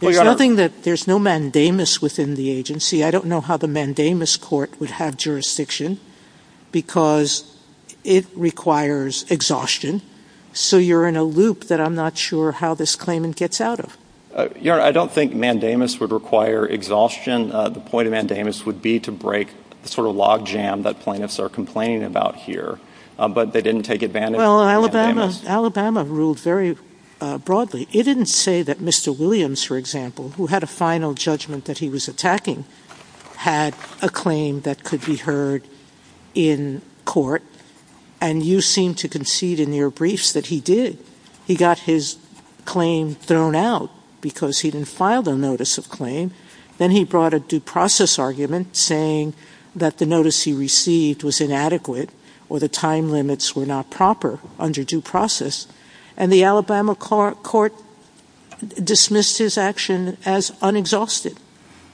There's nothing that-there's no mandamus within the agency. I don't know how the mandamus court would have jurisdiction, because it requires exhaustion. So you're in a loop that I'm not sure how this claimant gets out of. Yeah, I don't think mandamus would require exhaustion. The point of mandamus would be to break the sort of logjam that plaintiffs are complaining about here. But they didn't take advantage of mandamus. Alabama ruled very broadly. It didn't say that Mr. Williams, for example, who had a final judgment that he was attacking, had a claim that could be heard in court. And you seem to concede in your briefs that he did. He got his claim thrown out because he didn't file the notice of claim. Then he brought a due process argument saying that the notice he received was inadequate or the time limits were not proper under due process. And the Alabama court dismissed his action as unexhausted.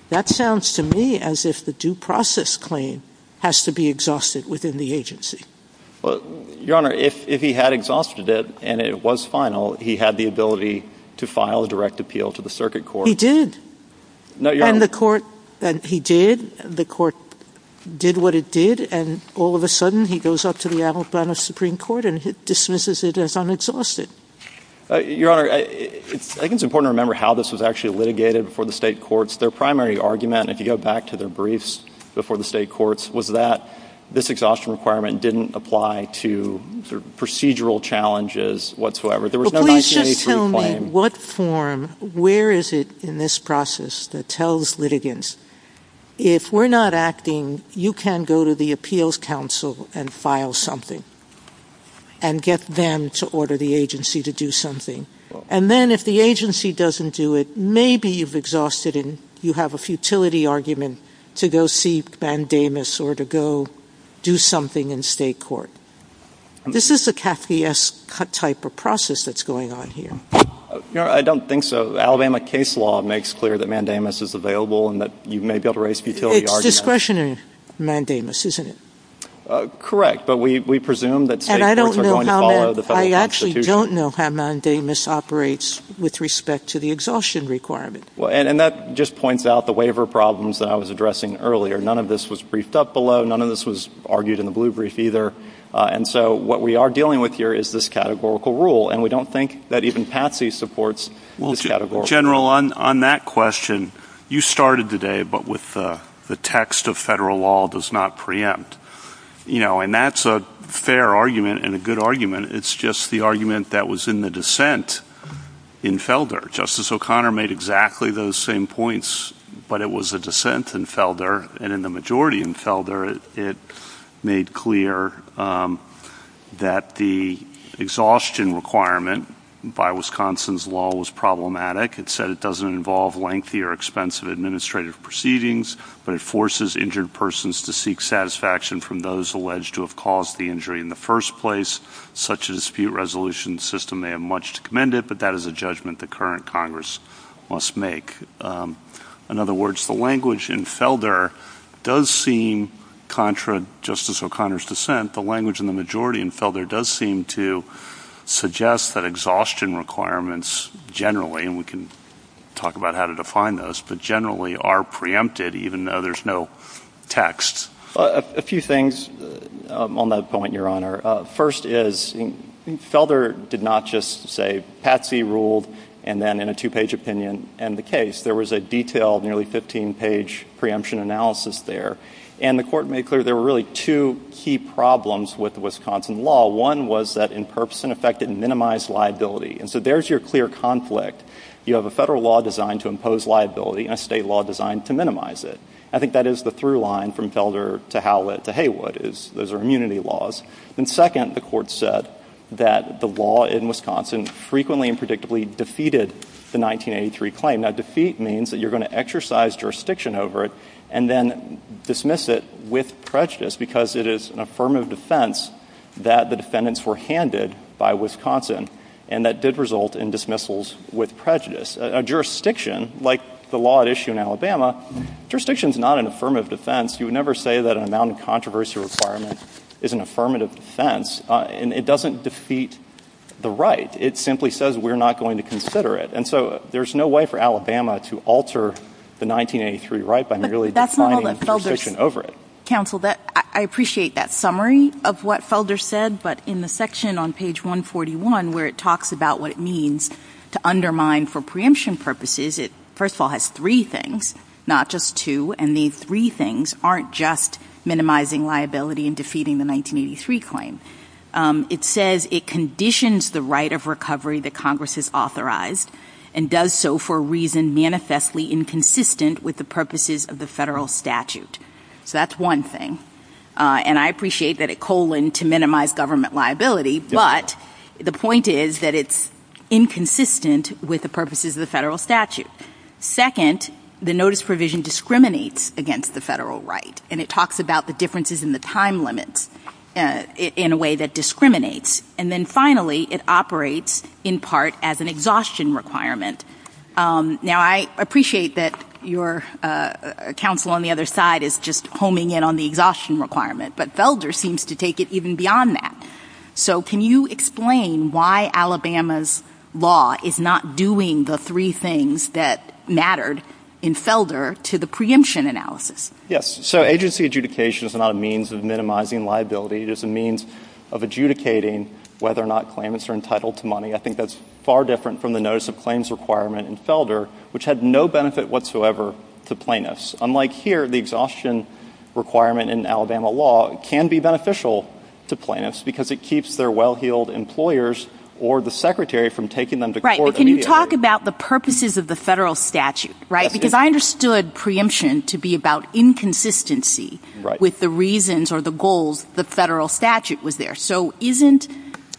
That sounds to me as if the due process claim has to be exhausted within the agency. Your Honor, if he had exhausted it and it was final, he had the ability to file a direct appeal to the circuit court. He did. And the court did what it did, and all of a sudden he goes up to the Alabama Supreme Court and dismisses it as unexhausted. Your Honor, I think it's important to remember how this was actually litigated before the state courts. Their primary argument, if you go back to their briefs before the state courts, was that this exhaustion requirement didn't apply to the procedural challenges whatsoever. There was no 1983 claim. But please just tell me what form, where is it in this process that tells litigants, if we're not acting, you can go to the appeals council and file something and get them to order the agency to do something. And then if the agency doesn't do it, maybe you've exhausted it and you have a futility argument to go see Mandamus or to go do something in state court. This is a Cathy S. type of process that's going on here. Your Honor, I don't think so. Alabama case law makes clear that Mandamus is available and that you may be able to raise a futility argument. It's discretionary, Mandamus, isn't it? Correct. But we presume that state courts are going to follow the federal constitution. We actually don't know how Mandamus operates with respect to the exhaustion requirement. And that just points out the waiver problems that I was addressing earlier. None of this was briefed up below, none of this was argued in the blue brief either. And so what we are dealing with here is this categorical rule. And we don't think that even Patsy supports this categorical rule. General, on that question, you started today but with the text of federal law does not preempt. You know, and that's a fair argument and a good argument. It's just the argument that was in the dissent in Felder. Justice O'Connor made exactly those same points but it was a dissent in Felder and in the majority in Felder it made clear that the exhaustion requirement by Wisconsin's law was problematic. It said it doesn't involve lengthy or expensive administrative proceedings but it forces injured persons to seek satisfaction from those alleged to have caused the injury in the first place, such as dispute resolution system may have much to commend it but that is a judgment the current Congress must make. In other words, the language in Felder does seem, contra Justice O'Connor's dissent, the language in the majority in Felder does seem to suggest that exhaustion requirements generally, and we can talk about how to define those, but generally are preempted even though there's no text. A few things on that point, Your Honor. First is, Felder did not just say Patsy ruled and then in a two-page opinion end the case. There was a detailed, nearly 15-page preemption analysis there and the court made clear there were really two key problems with Wisconsin law. One was that in purpose and effect it minimized liability and so there's your clear conflict. You have a federal law designed to impose liability and a state law designed to minimize it. I think that is the through line from Felder to Howlett to Haywood is those are immunity laws. And second, the court said that the law in Wisconsin frequently and predictably defeated the 1983 claim. Now defeat means that you're going to exercise jurisdiction over it and then dismiss it with prejudice because it is an affirmative defense that the defendants were handed by Wisconsin and that did result in dismissals with prejudice. A jurisdiction, like the law at issue in Alabama, jurisdiction is not an affirmative defense. You would never say that an amount of controversy requirement is an affirmative defense. It doesn't defeat the right. It simply says we're not going to consider it. And so there's no way for Alabama to alter the 1983 right by merely defining jurisdiction over it. Counsel, I appreciate that summary of what Felder said, but in the section on page 141 where it talks about what it means to undermine for preemption purposes, it first of all has three things, not just two, and these three things aren't just minimizing liability and defeating the 1983 claim. It says it conditions the right of recovery that Congress has authorized and does so for a reason manifestly inconsistent with the purposes of the federal statute. So that's one thing. And I appreciate that it coloned to minimize government liability, but the point is that it's inconsistent with the purposes of the federal statute. Second, the notice provision discriminates against the federal right, and it talks about the differences in the time limits in a way that discriminates. And then finally, it operates in part as an exhaustion requirement. Now, I appreciate that your counsel on the other side is just homing in on the exhaustion requirement, but Felder seems to take it even beyond that. So can you explain why Alabama's law is not doing the three things that mattered in Felder to the preemption analysis? Yes. So agency adjudication is not a means of minimizing liability. It is a means of adjudicating whether or not claimants are entitled to money. I think that's far different from the notice of claims requirement in Felder, which had no benefit whatsoever to plaintiffs. Unlike here, the exhaustion requirement in Alabama law can be beneficial to plaintiffs because it keeps their well-heeled employers or the secretary from taking them to court immediately. But can you talk about the purposes of the federal statute? Right? Because I understood preemption to be about inconsistency with the reasons or the goals the federal statute was there. So isn't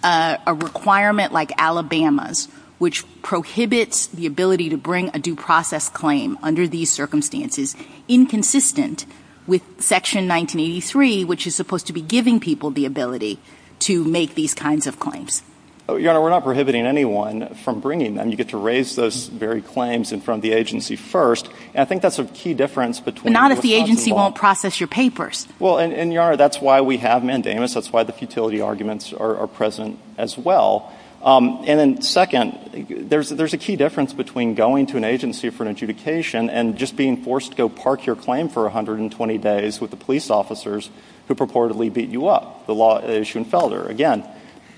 a requirement like Alabama's, which prohibits the ability to bring a due process claim under these circumstances, inconsistent with Section 1983, which is supposed to be giving people the ability to make these kinds of claims? Your Honor, we're not prohibiting anyone from bringing them. You get to raise those very claims in front of the agency first, and I think that's a key difference between... But not if the agency won't process your papers. Well, and Your Honor, that's why we have mandamus. That's why the futility arguments are present as well. And then second, there's a key difference between going to an agency for an adjudication and just being forced to go park your claim for 120 days with the police officers who purportedly beat you up. The law issue in Felder, again,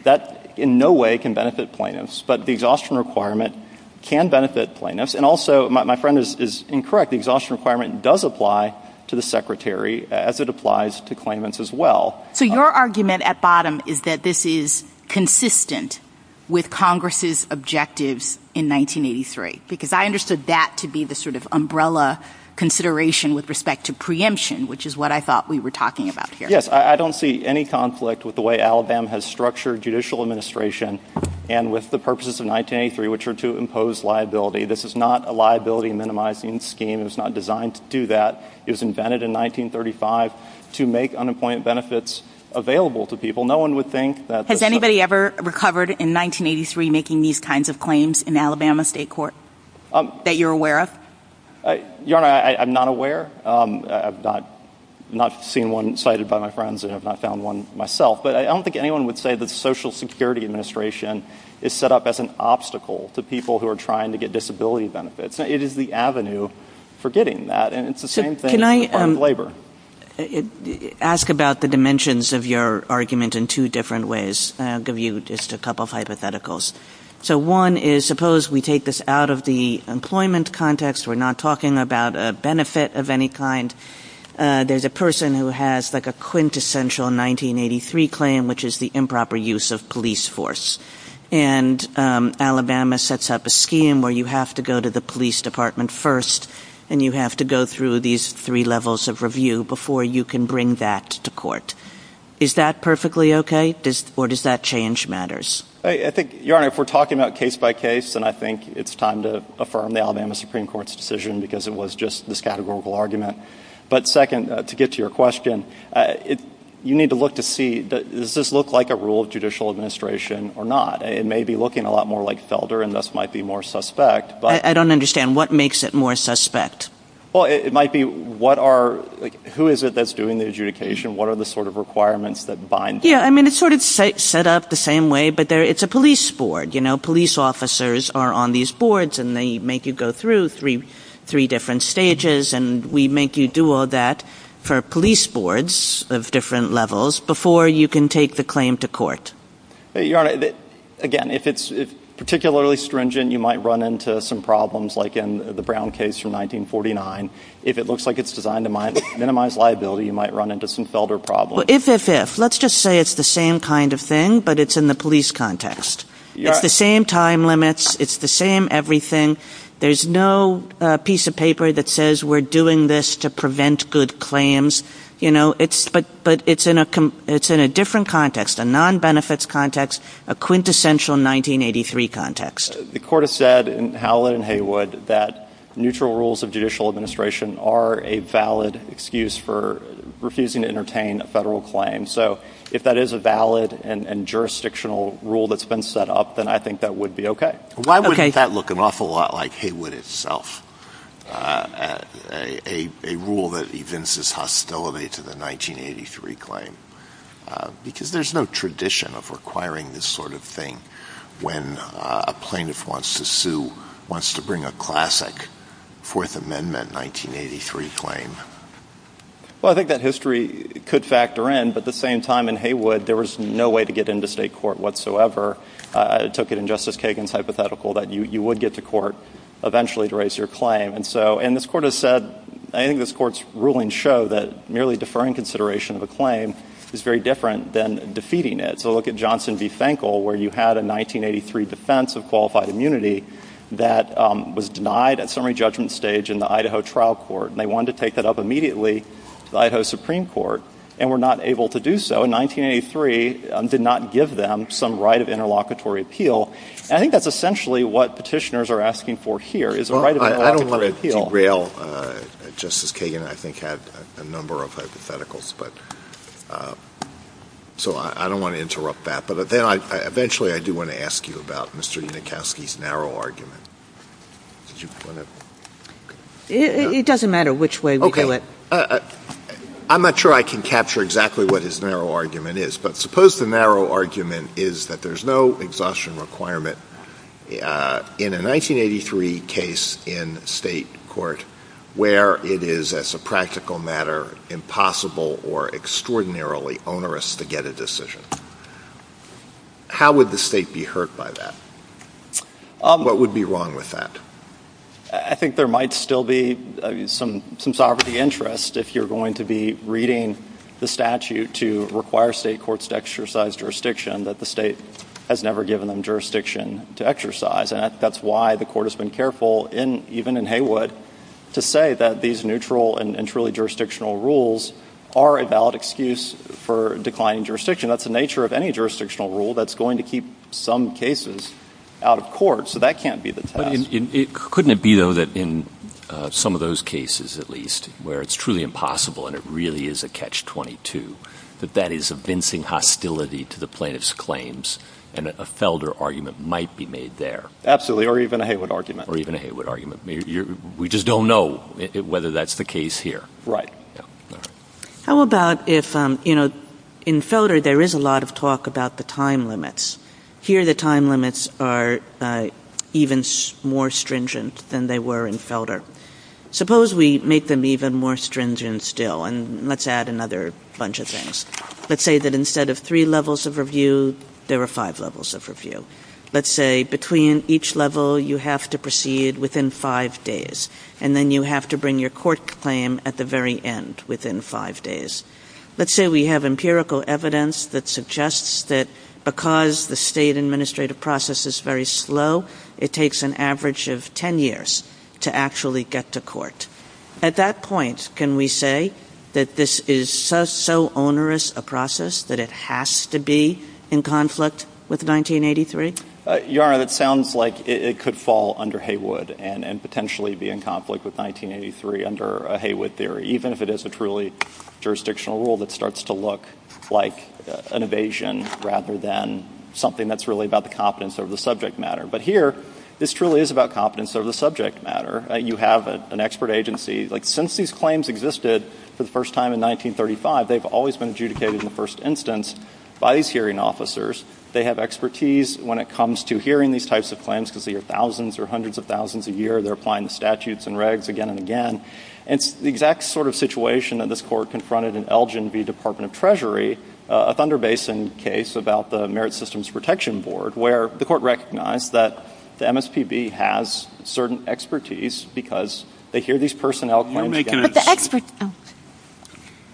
that in no way can benefit plaintiffs. But the exhaustion requirement can benefit plaintiffs. And also, my friend is incorrect, the exhaustion requirement does apply to the secretary as it applies to claimants as well. So, your argument at bottom is that this is consistent with Congress' objectives in 1983, because I understood that to be the sort of umbrella consideration with respect to preemption, which is what I thought we were talking about here. Yes, I don't see any conflict with the way Alabama has structured judicial administration and with the purposes of 1983, which are to impose liability. This is not a liability minimizing scheme. It was not designed to do that. It was invented in 1935 to make unemployment benefits available to people. No one would think that... Has anybody ever recovered in 1983 making these kinds of claims in Alabama state court that you're aware of? Your Honor, I'm not aware. I've not seen one cited by my friends and I've not found one myself. But I don't think anyone would say that Social Security Administration is set up as an obstacle to people who are trying to get disability benefits. It is the avenue for getting that. Can I ask about the dimensions of your argument in two different ways? I'll give you just a couple of hypotheticals. So one is, suppose we take this out of the employment context. We're not talking about a benefit of any kind. There's a person who has like a quintessential 1983 claim, which is the improper use of police force. And Alabama sets up a scheme where you have to go to the police department first and you have to go through these three levels of review before you can bring that to court. Is that perfectly okay? Or does that change matters? I think, Your Honor, if we're talking about case by case, then I think it's time to affirm the Alabama Supreme Court's decision because it was just this categorical argument. But second, to get to your question, you need to look to see, does this look like a rule of judicial administration or not? It may be looking a lot more like Felder and thus might be more suspect. I don't understand. What makes it more suspect? Well, it might be what are, who is it that's doing the adjudication? What are the sort of requirements that bind? Yeah, I mean, it's sort of set up the same way, but it's a police board. You know, police officers are on these boards and they make you go through three different stages and we make you do all that for police boards of different levels before you can take the claim to court. Your Honor, again, if it's particularly stringent, you might run into some problems like in the Brown case from 1949. If it looks like it's designed to minimize liability, you might run into some Felder problems. Well, if, if, if. Let's just say it's the same kind of thing, but it's in the police context. It's the same time limits. It's the same everything. There's no piece of paper that says we're doing this to prevent good claims. You know, it's, but, but it's in a, it's in a different context, a non-benefits context, a quintessential 1983 context. The court has said in Howlett and Heywood that neutral rules of judicial administration are a valid excuse for refusing to entertain a federal claim. So if that is a valid and jurisdictional rule that's been set up, then I think that would be okay. Why would that look an awful lot like Heywood itself? A, a, a rule that evinces hostility to the 1983 claim, because there's no tradition of requiring this sort of thing when a plaintiff wants to sue, wants to bring a classic fourth amendment 1983 claim. Well, I think that history could factor in, but at the same time in Heywood, there was no way to get into state court whatsoever. I took it in Justice Kagan's hypothetical that you, you would get to court eventually to raise your claim. And so, and this court has said, I think this court's ruling show that merely deferring consideration of a claim is very different than defeating it. So look at Johnson v. Fenkel, where you had a 1983 defense of qualified immunity that was denied at summary judgment stage in the Idaho trial court. And they wanted to take that up immediately to the Idaho Supreme Court and were not able to do so. And so in 1983, um, did not give them some right of interlocutory appeal. And I think that's essentially what petitioners are asking for here is a right of interlocutory appeal. I don't want to derail, uh, Justice Kagan, I think had a number of hypotheticals, but, uh, so I don't want to interrupt that, but then I, eventually I do want to ask you about Mr. Unikowsky's narrow argument. Did you want to? It doesn't matter which way we do it. I'm not sure I can capture exactly what his narrow argument is, but suppose the narrow argument is that there's no exhaustion requirement, uh, in a 1983 case in state court where it is as a practical matter, impossible or extraordinarily onerous to get a decision. How would the state be hurt by that? What would be wrong with that? I think there might still be some, some sovereignty interest if you're going to be reading the statute to require state courts to exercise jurisdiction that the state has never given them jurisdiction to exercise. And that's why the court has been careful in, even in Haywood to say that these neutral and truly jurisdictional rules are a valid excuse for declining jurisdiction. That's the nature of any jurisdictional rule. That's going to keep some cases out of court. So that can't be the test. Couldn't it be though that in some of those cases at least where it's truly impossible and it really is a catch 22, that that is a vincing hostility to the plaintiff's claims and a Felder argument might be made there. Or even a Haywood argument. Or even a Haywood argument. We just don't know whether that's the case here. Right. How about if, um, you know, in Felder there is a lot of talk about the time limits. Here the time limits are even more stringent than they were in Felder. Suppose we make them even more stringent still and let's add another bunch of things. Let's say that instead of three levels of review, there are five levels of review. Let's say between each level you have to proceed within five days and then you have to bring your court claim at the very end within five days. Let's say we have empirical evidence that suggests that because the state administrative process is very slow, it takes an average of 10 years to actually get to court. At that point, can we say that this is so onerous a process that it has to be in conflict with 1983? Yara, it sounds like it could fall under Haywood and potentially be in conflict with 1983 under a Haywood theory, even if it is a truly jurisdictional rule that starts to look like an evasion rather than something that's really about the competence of the subject matter. But here, this truly is about competence of the subject matter. You have an expert agency, like since these claims existed for the first time in 1935, they've always been adjudicated in the first instance by these hearing officers. They have expertise when it comes to hearing these types of claims because there are thousands or hundreds of thousands a year. They're applying the statutes and regs again and again. It's the exact sort of situation that this court confronted in Elgin v. Department of Treasury, a Thunder Basin case about the Merit Systems Protection Board, where the court recognized that the MSPB has certain expertise because they hear these personnel claims again.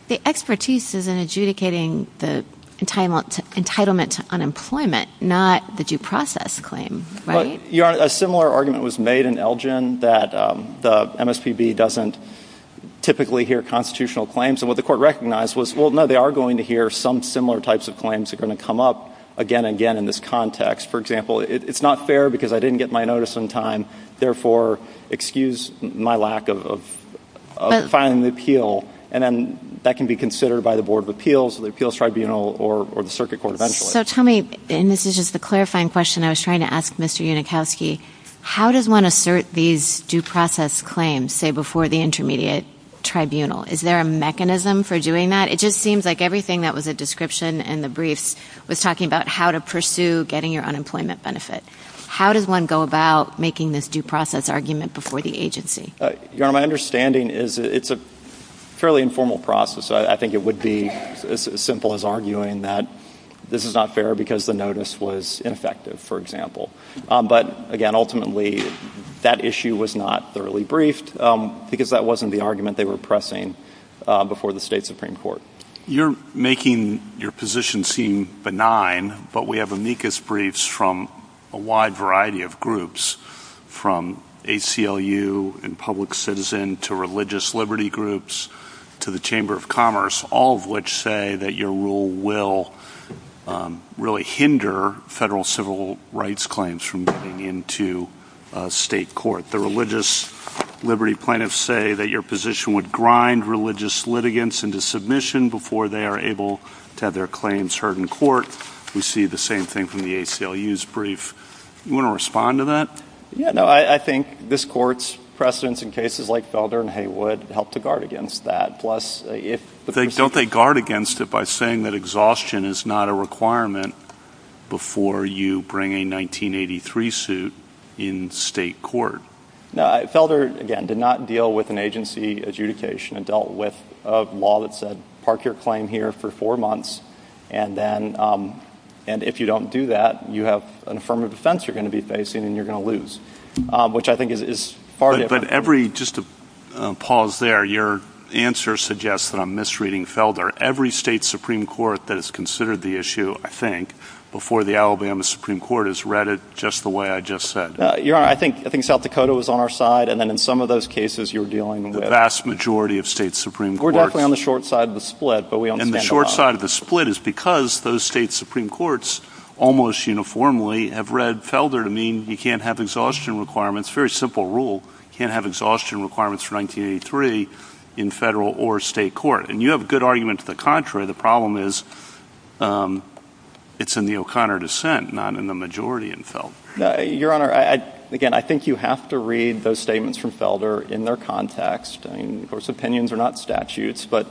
The expertise is in adjudicating the entitlement to unemployment, not the due process claim, right? A similar argument was made in Elgin that the MSPB doesn't typically hear constitutional claims. And what the court recognized was, well, no, they are going to hear some similar types of claims that are going to come up again and again in this context. For example, it's not fair because I didn't get my notice in time, therefore, excuse my lack of filing an appeal. And then that can be considered by the Board of Appeals, the Appeals Tribunal, or the Circuit Court eventually. So tell me, and this is just a clarifying question I was trying to ask Mr. Unikowski, how does one assert these due process claims, say, before the intermediate tribunal? Is there a mechanism for doing that? It just seems like everything that was a description in the briefs was talking about how to pursue getting your unemployment benefit. How does one go about making this due process argument before the agency? You know, my understanding is it's a fairly informal process. I think it would be as simple as arguing that this is not fair because the notice was ineffective, for example. But, again, ultimately, that issue was not thoroughly briefed because that wasn't the argument they were pressing before the state Supreme Court. You're making your position seem benign, but we have amicus briefs from a wide variety of groups, from ACLU and public citizen to religious liberty groups to the Chamber of Commerce, all of which say that your rule will really hinder federal civil rights claims from getting into state court. The religious liberty plaintiffs say that your position would grind religious litigants into submission before they are able to have their claims heard in court. We see the same thing from the ACLU's brief. Do you want to respond to that? Yeah, no, I think this court's precedents in cases like Felder and Heywood help to guard against that. Plus, if... But don't they guard against it by saying that exhaustion is not a requirement before you bring a 1983 suit in state court? No, Felder, again, did not deal with an agency adjudication. It dealt with a law that said park your claim here for four months, and then if you don't do that, you have an affirmative defense you're going to be facing, and you're going to lose, which I think is far different. But every... Just to pause there, your answer suggests that I'm misreading Felder. Every state Supreme Court that has considered the issue, I think, before the Alabama Supreme Court has read it just the way I just said. You're right. I think South Dakota was on our side, and then in some of those cases, you're dealing with... The vast majority of state Supreme Courts... We're definitely on the short side of the split, but we understand... And the short side of the split is because those state Supreme Courts, almost uniformly, have read Felder to mean you can't have exhaustion requirements, very simple rule, can't have exhaustion requirements for 1983 in federal or state court. And you have a good argument to the contrary. The problem is it's in the O'Connor dissent, not in the majority in Felder. Your Honor, again, I think you have to read those statements from Felder in their context. I mean, of course, opinions are not statutes, but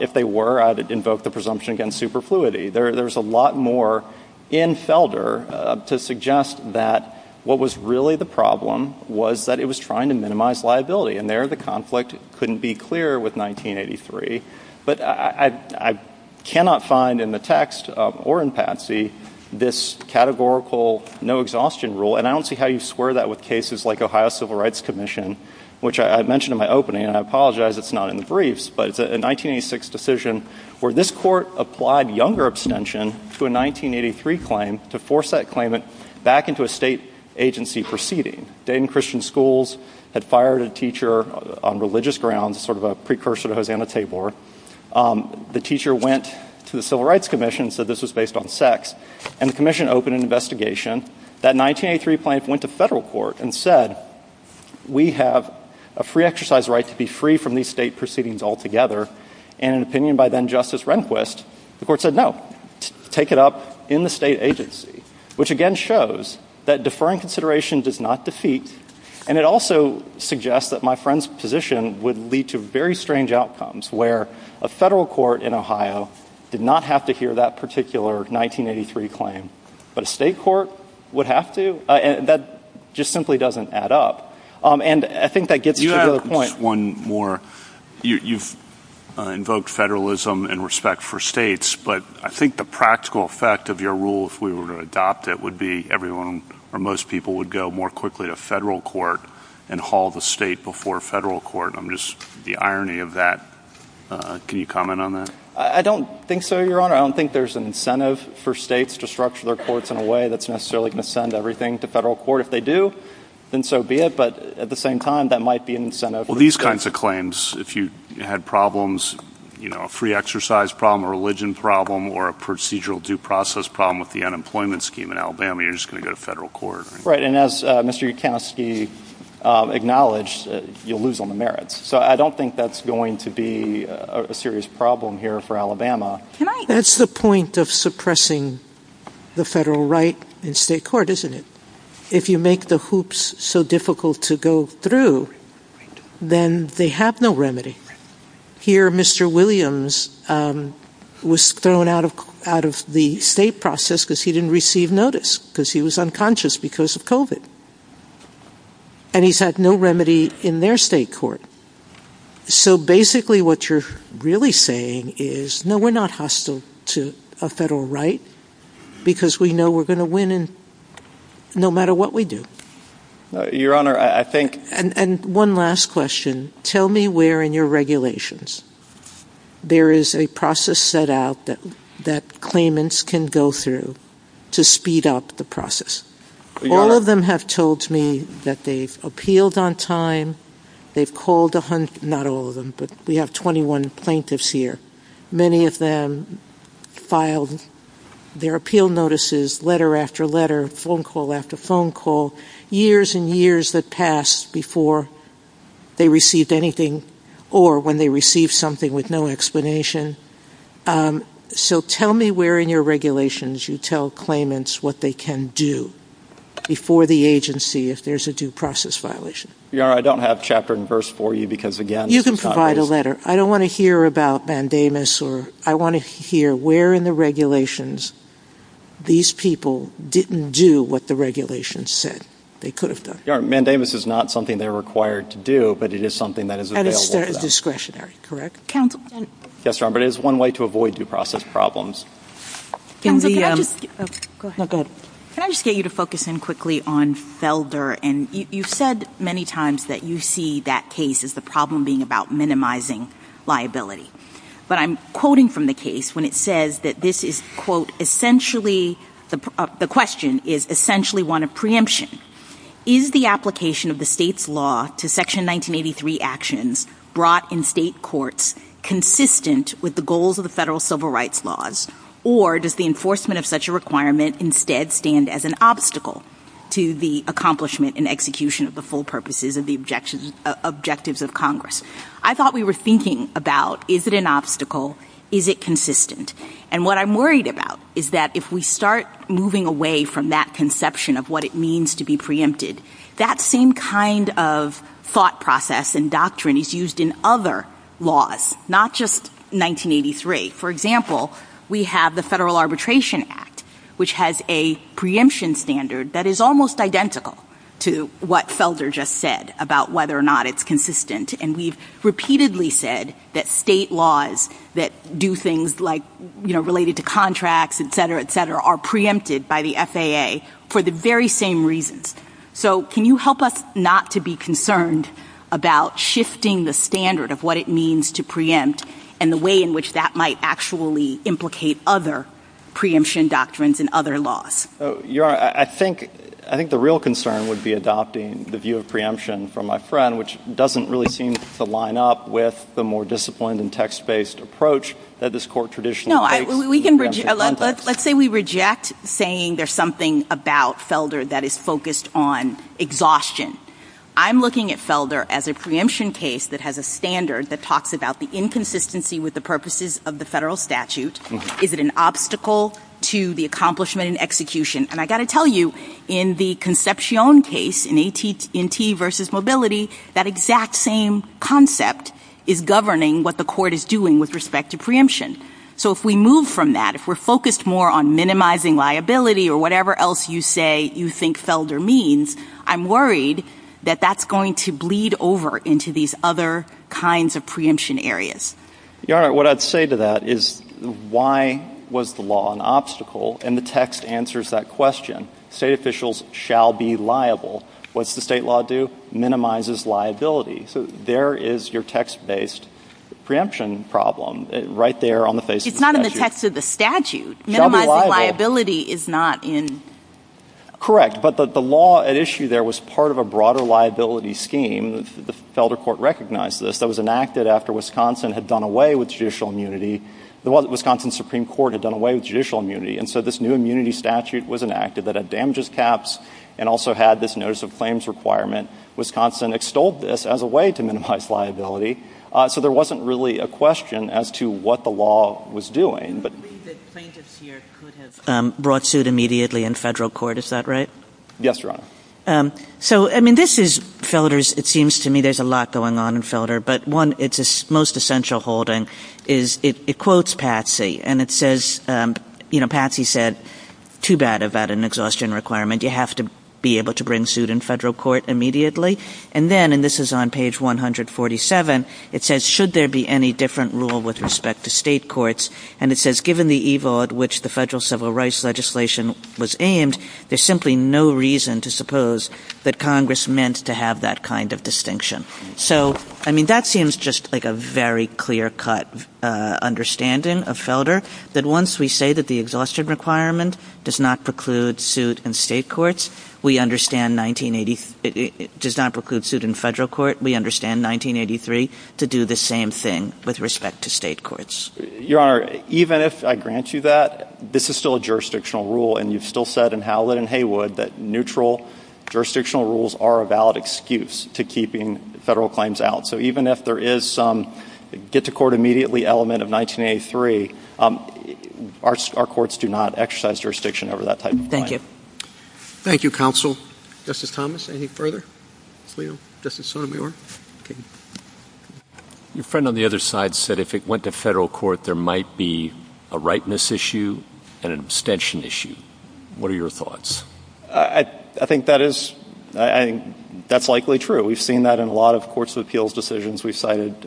if they were, I'd invoke the presumption against superfluity. There's a lot more in Felder to suggest that what was really the problem was that it was trying to minimize liability. And there, the conflict couldn't be clearer with 1983. But I cannot find in the text or in Patsy this categorical no exhaustion rule. And I don't see how you square that with cases like Ohio Civil Rights Commission, which I mean, I apologize it's not in the briefs, but it's a 1986 decision where this court applied younger abstention to a 1983 claim to force that claimant back into a state agency for seating. Dayton Christian Schools had fired a teacher on religious grounds, sort of a precursor to Hosanna Tabor. The teacher went to the Civil Rights Commission, said this was based on sex, and the commission opened an investigation. That 1983 claim went to federal court and said, we have a free exercise right to be free from these state proceedings altogether. And in an opinion by then Justice Rehnquist, the court said, no, take it up in the state agency, which again shows that deferring consideration does not defeat. And it also suggests that my friend's position would lead to very strange outcomes where a federal court in Ohio did not have to hear that particular 1983 claim. But a state court would have to? That just simply doesn't add up. And I think that gets to the point. You add just one more. You've invoked federalism and respect for states, but I think the practical effect of your rule, if we were to adopt it, would be everyone or most people would go more quickly to federal court and haul the state before federal court. I'm just, the irony of that, can you comment on that? I don't think so, Your Honor. I don't think there's an incentive for states to structure their courts in a way that's necessarily going to send everything to federal court. If they do, then so be it. But at the same time, that might be an incentive. Well, these kinds of claims, if you had problems, you know, a free exercise problem, a religion problem or a procedural due process problem with the unemployment scheme in Alabama, you're just going to go to federal court. Right. And as Mr. Yudkowsky acknowledged, you'll lose on the merits. So I don't think that's going to be a serious problem here for Alabama. That's the point of suppressing the federal right in state court, isn't it? If you make the hoops so difficult to go through, then they have no remedy. Here Mr. Williams was thrown out of out of the state process because he didn't receive notice because he was unconscious because of COVID and he's had no remedy in their state court. So basically, what you're really saying is, no, we're not hostile to a federal right because we know we're going to win no matter what we do. Your Honor, I think and one last question. Tell me where in your regulations there is a process set out that that claimants can go through to speed up the process. All of them have told me that they've appealed on time. They've called a hundred, not all of them, but we have 21 plaintiffs here. Many of them filed their appeal notices, letter after letter, phone call after phone call, years and years that passed before they received anything or when they received something with no explanation. So tell me where in your regulations you tell claimants what they can do before the agency if there's a due process violation. Your Honor, I don't have chapter and verse for you because again... You can provide a letter. I don't want to hear about Mandamus. I want to hear where in the regulations these people didn't do what the regulations said they could have done. Your Honor, Mandamus is not something they're required to do, but it is something that is available. And it's their discretionary, correct? Counsel? Yes, Your Honor. But it is one way to avoid due process problems. Go ahead. Can I just get you to focus in quickly on Felder? And you said many times that you see that case as the problem being about minimizing liability. But I'm quoting from the case when it says that this is, quote, essentially, the question is essentially one of preemption. Is the application of the state's law to Section 1983 actions brought in state courts consistent with the goals of the federal civil rights laws? Or does the enforcement of such a requirement instead stand as an obstacle to the accomplishment and execution of the full purposes of the objectives of Congress? I thought we were thinking about is it an obstacle? Is it consistent? And what I'm worried about is that if we start moving away from that conception of what it means to be preempted, that same kind of thought process and doctrine is used in other laws, not just 1983. For example, we have the Federal Arbitration Act, which has a preemption standard that is almost identical to what Felder just said about whether or not it's consistent. And we've repeatedly said that state laws that do things like, you know, related to contracts, et cetera, et cetera, are preempted by the FAA for the very same reasons. So can you help us not to be concerned about shifting the standard of what it means to preempt and the way in which that might actually implicate other preemption doctrines in other laws? So, Yara, I think the real concern would be adopting the view of preemption from my friend, which doesn't really seem to line up with the more disciplined and text-based approach that this Court traditionally takes. No. Let's say we reject saying there's something about Felder that is focused on exhaustion. I'm looking at Felder as a preemption case that has a standard that talks about the inconsistency with the purposes of the federal statute. Is it an obstacle to the accomplishment and execution? And I've got to tell you, in the Concepcion case, in AT&T v. Mobility, that exact same concept is governing what the Court is doing with respect to preemption. So if we move from that, if we're focused more on minimizing liability or whatever else you say you think Felder means, I'm worried that that's going to bleed over into these other kinds of preemption areas. Yara, what I'd say to that is, why was the law an obstacle? And the text answers that question. State officials shall be liable. What's the state law do? Minimizes liability. So there is your text-based preemption problem right there on the face of the statute. It's not in the text of the statute. Minimizing liability is not in... Correct. But the law at issue there was part of a broader liability scheme. The Felder Court recognized this. That was enacted after Wisconsin had done away with judicial immunity. The Wisconsin Supreme Court had done away with judicial immunity. And so this new immunity statute was enacted that had damages caps and also had this notice of claims requirement. And Wisconsin extolled this as a way to minimize liability. So there wasn't really a question as to what the law was doing. But... The plaintiffs here could have brought suit immediately in federal court. Is that right? Yes, Your Honor. So, I mean, this is Felder's... It seems to me there's a lot going on in Felder. But one, it's most essential holding is it quotes Patsy. And it says, you know, Patsy said, too bad about an exhaustion requirement. You have to be able to bring suit in federal court immediately. And then, and this is on page 147, it says, should there be any different rule with respect to state courts? And it says, given the evil at which the federal civil rights legislation was aimed, there's simply no reason to suppose that Congress meant to have that kind of distinction. So I mean, that seems just like a very clear cut understanding of Felder. Your Honor, even if I grant you that, this is still a jurisdictional rule. And you've still said in Howlett and Haywood that neutral jurisdictional rules are a valid excuse to keeping federal claims out. So even if there is some get-to-court-immediately element of 1983, our courts do not exercise jurisdiction over that type of claim. Thank you, counsel. Justice Thomas, any further? Justice Sotomayor? Your friend on the other side said if it went to federal court, there might be a rightness issue and an abstention issue. What are your thoughts? I think that is... That's likely true. We've seen that in a lot of courts of appeals decisions. We cited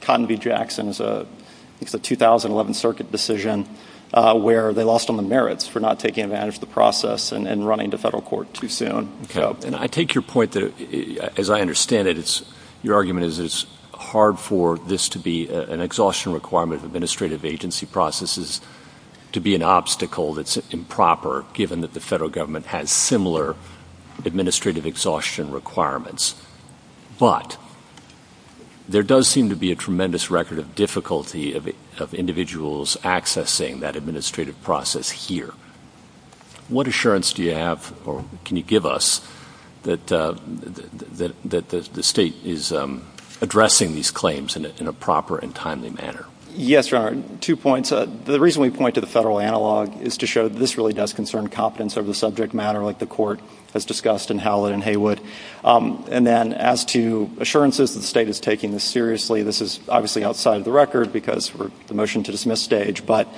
Condie Jackson's 2011 circuit decision where they lost on the merits for not taking advantage of the process and running to federal court too soon. And I take your point that, as I understand it, your argument is it's hard for this to be an exhaustion requirement of administrative agency processes to be an obstacle that's improper given that the federal government has similar administrative exhaustion requirements. But there does seem to be a tremendous record of difficulty of individuals accessing that administrative process here. What assurance do you have, or can you give us, that the state is addressing these claims in a proper and timely manner? Yes, Your Honor. Two points. The reason we point to the federal analog is to show that this really does concern competence over the subject matter like the court has discussed in Howlett and Haywood. And then as to assurances that the state is taking this seriously, this is obviously outside of the record because of the motion to dismiss stage. But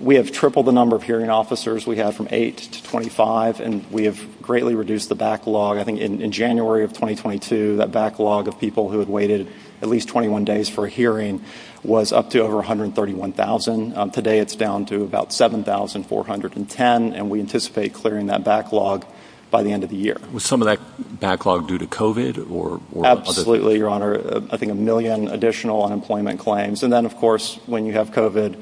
we have tripled the number of hearing officers. We have from eight to 25, and we have greatly reduced the backlog. I think in January of 2022, that backlog of people who had waited at least 21 days for a hearing was up to over 131,000. Today it's down to about 7,410, and we anticipate clearing that backlog by the end of the year. Was some of that backlog due to COVID or other? Absolutely, Your Honor. I think a million additional unemployment claims. And then, of course, when you have COVID,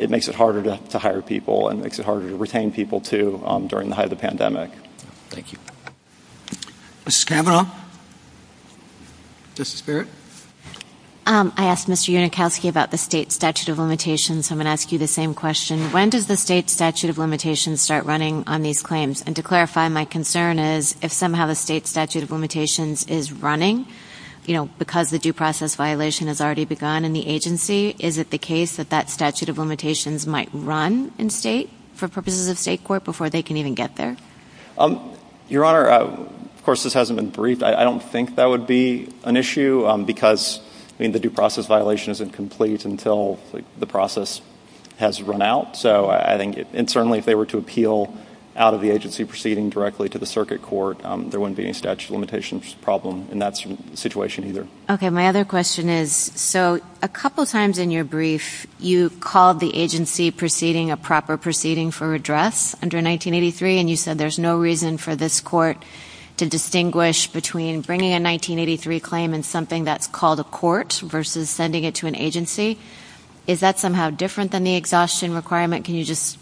it makes it harder to hire people and makes it harder to retain people too during the height of the pandemic. Thank you. Mrs. Kavanaugh? Justice Barrett? I asked Mr. Unikowski about the state statute of limitations, so I'm going to ask you the same question. When does the state statute of limitations start running on these claims? And to clarify, my concern is if somehow the state statute of limitations is running, you know, because the due process violation has already begun in the agency, is it the case that that statute of limitations might run in state for purposes of the state court before they can even get there? Your Honor, of course, this hasn't been briefed. I don't think that would be an issue because, I mean, the due process violation isn't complete until the process has run out. So I think, and certainly if they were to appeal out of the agency proceeding directly to the circuit court, there wouldn't be any statute of limitations problem in that situation either. Okay. My other question is, so a couple of times in your brief, you called the agency proceeding a proper proceeding for redress under 1983, and you said there's no reason for this court to distinguish between bringing a 1983 claim and something that's called a court versus sending it to an agency. Is that somehow different than the exhaustion requirement? Can you just?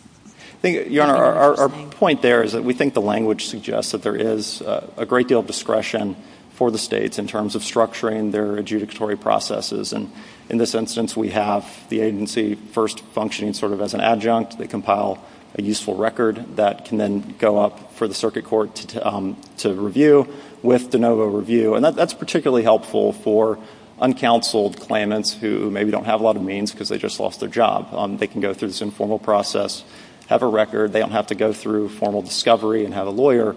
Your Honor, our point there is that we think the language suggests that there is a great deal of discretion for the states in terms of structuring their adjudicatory processes. And in this instance, we have the agency first functioning sort of as an adjunct. They compile a useful record that can then go up for the circuit court to review with de novo review. And that's particularly helpful for uncounseled claimants who maybe don't have a lot of means because they just lost their job. They can go through this informal process, have a record. They don't have to go through formal discovery and have a lawyer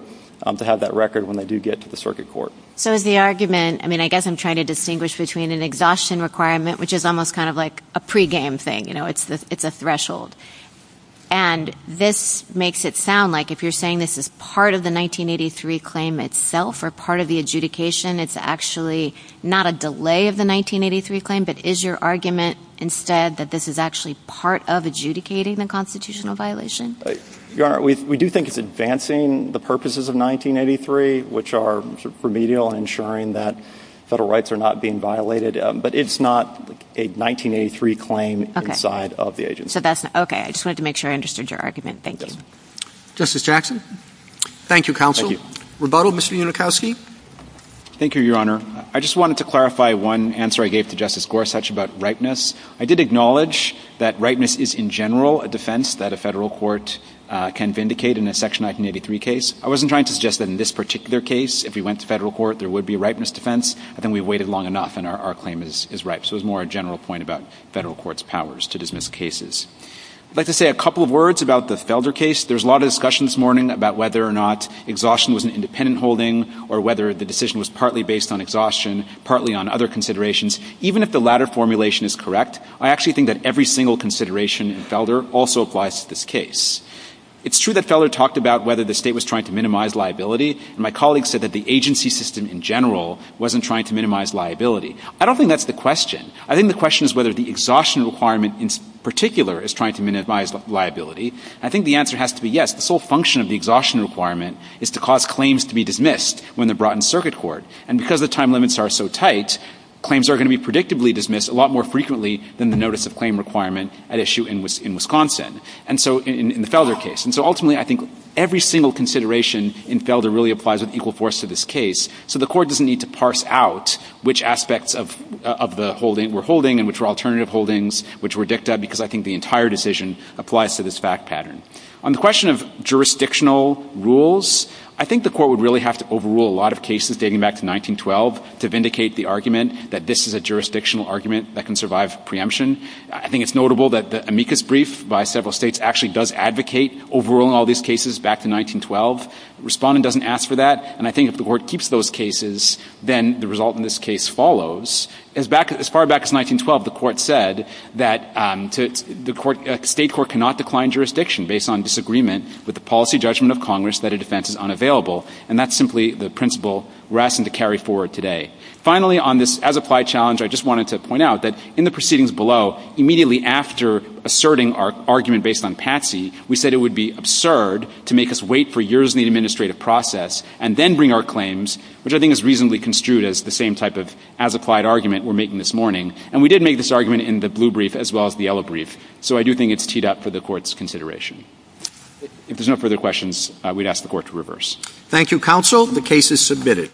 to have that record when they do get to the circuit court. So the argument, I mean, I guess I'm trying to distinguish between an exhaustion requirement, which is almost kind of like a pregame thing. You know, it's a threshold. And this makes it sound like if you're saying this is part of the 1983 claim itself or part of the adjudication, it's actually not a delay of the 1983 claim, but is your argument instead that this is actually part of adjudicating the constitutional violation? Your Honor, we do think it's advancing the purposes of 1983, which are remedial and ensuring that federal rights are not being violated. But it's not a 1983 claim inside of the agency. I just wanted to make sure I understood your argument. Thank you. Justice Jackson? Thank you, counsel. Rebuttal? Mr. Unikowski? Thank you, Your Honor. I just wanted to clarify one answer I gave to Justice Gorsuch about ripeness. I did acknowledge that ripeness is, in general, a defense that a federal court can vindicate in a Section 1983 case. I wasn't trying to suggest that in this particular case, if we went to federal court, there would be a ripeness defense. I think we've waited long enough, and our claim is ripe. So it's more a general point about federal court's powers to dismiss cases. I'd like to say a couple of words about the Felder case. There's a lot of discussion this morning about whether or not exhaustion was an independent holding or whether the decision was partly based on exhaustion, partly on other considerations. Even if the latter formulation is correct, I actually think that every single consideration in Felder also applies to this case. It's true that Felder talked about whether the state was trying to minimize liability. My colleagues said that the agency system in general wasn't trying to minimize liability. I don't think that's the question. I think the question is whether the exhaustion requirement in particular is trying to minimize liability. And I think the answer has to be yes. The sole function of the exhaustion requirement is to cause claims to be dismissed when they're brought in circuit court. And because the time limits are so tight, claims are going to be predictably dismissed a lot more frequently than the notice of claim requirement at issue in Wisconsin in the Felder case. And so ultimately, I think every single consideration in Felder really applies with equal force to this case. So the court doesn't need to parse out which aspects of the holding we're holding and which are alternative holdings, which were dicta, because I think the entire decision applies to this fact pattern. On the question of jurisdictional rules, I think the court would really have to overrule a lot of cases dating back to 1912 to vindicate the argument that this is a jurisdictional argument that can survive preemption. I think it's notable that the amicus brief by several states actually does advocate overruling all these cases back to 1912. Respondent doesn't ask for that. And I think if the court keeps those cases, then the result in this case follows. As far back as 1912, the court said that the state court cannot decline jurisdiction based on disagreement with the policy judgment of Congress that a defense is unavailable. And that's simply the principle we're asking to carry forward today. Finally, on this as applied challenge, I just wanted to point out that in the proceedings immediately after asserting our argument based on Patsy, we said it would be absurd to make us wait for years in the administrative process and then bring our claims, which I think is reasonably construed as the same type of as applied argument we're making this morning. And we did make this argument in the blue brief as well as the yellow brief. So I do think it's teed up for the court's consideration. If there's no further questions, we'd ask the court to reverse. Thank you, counsel. The case is submitted.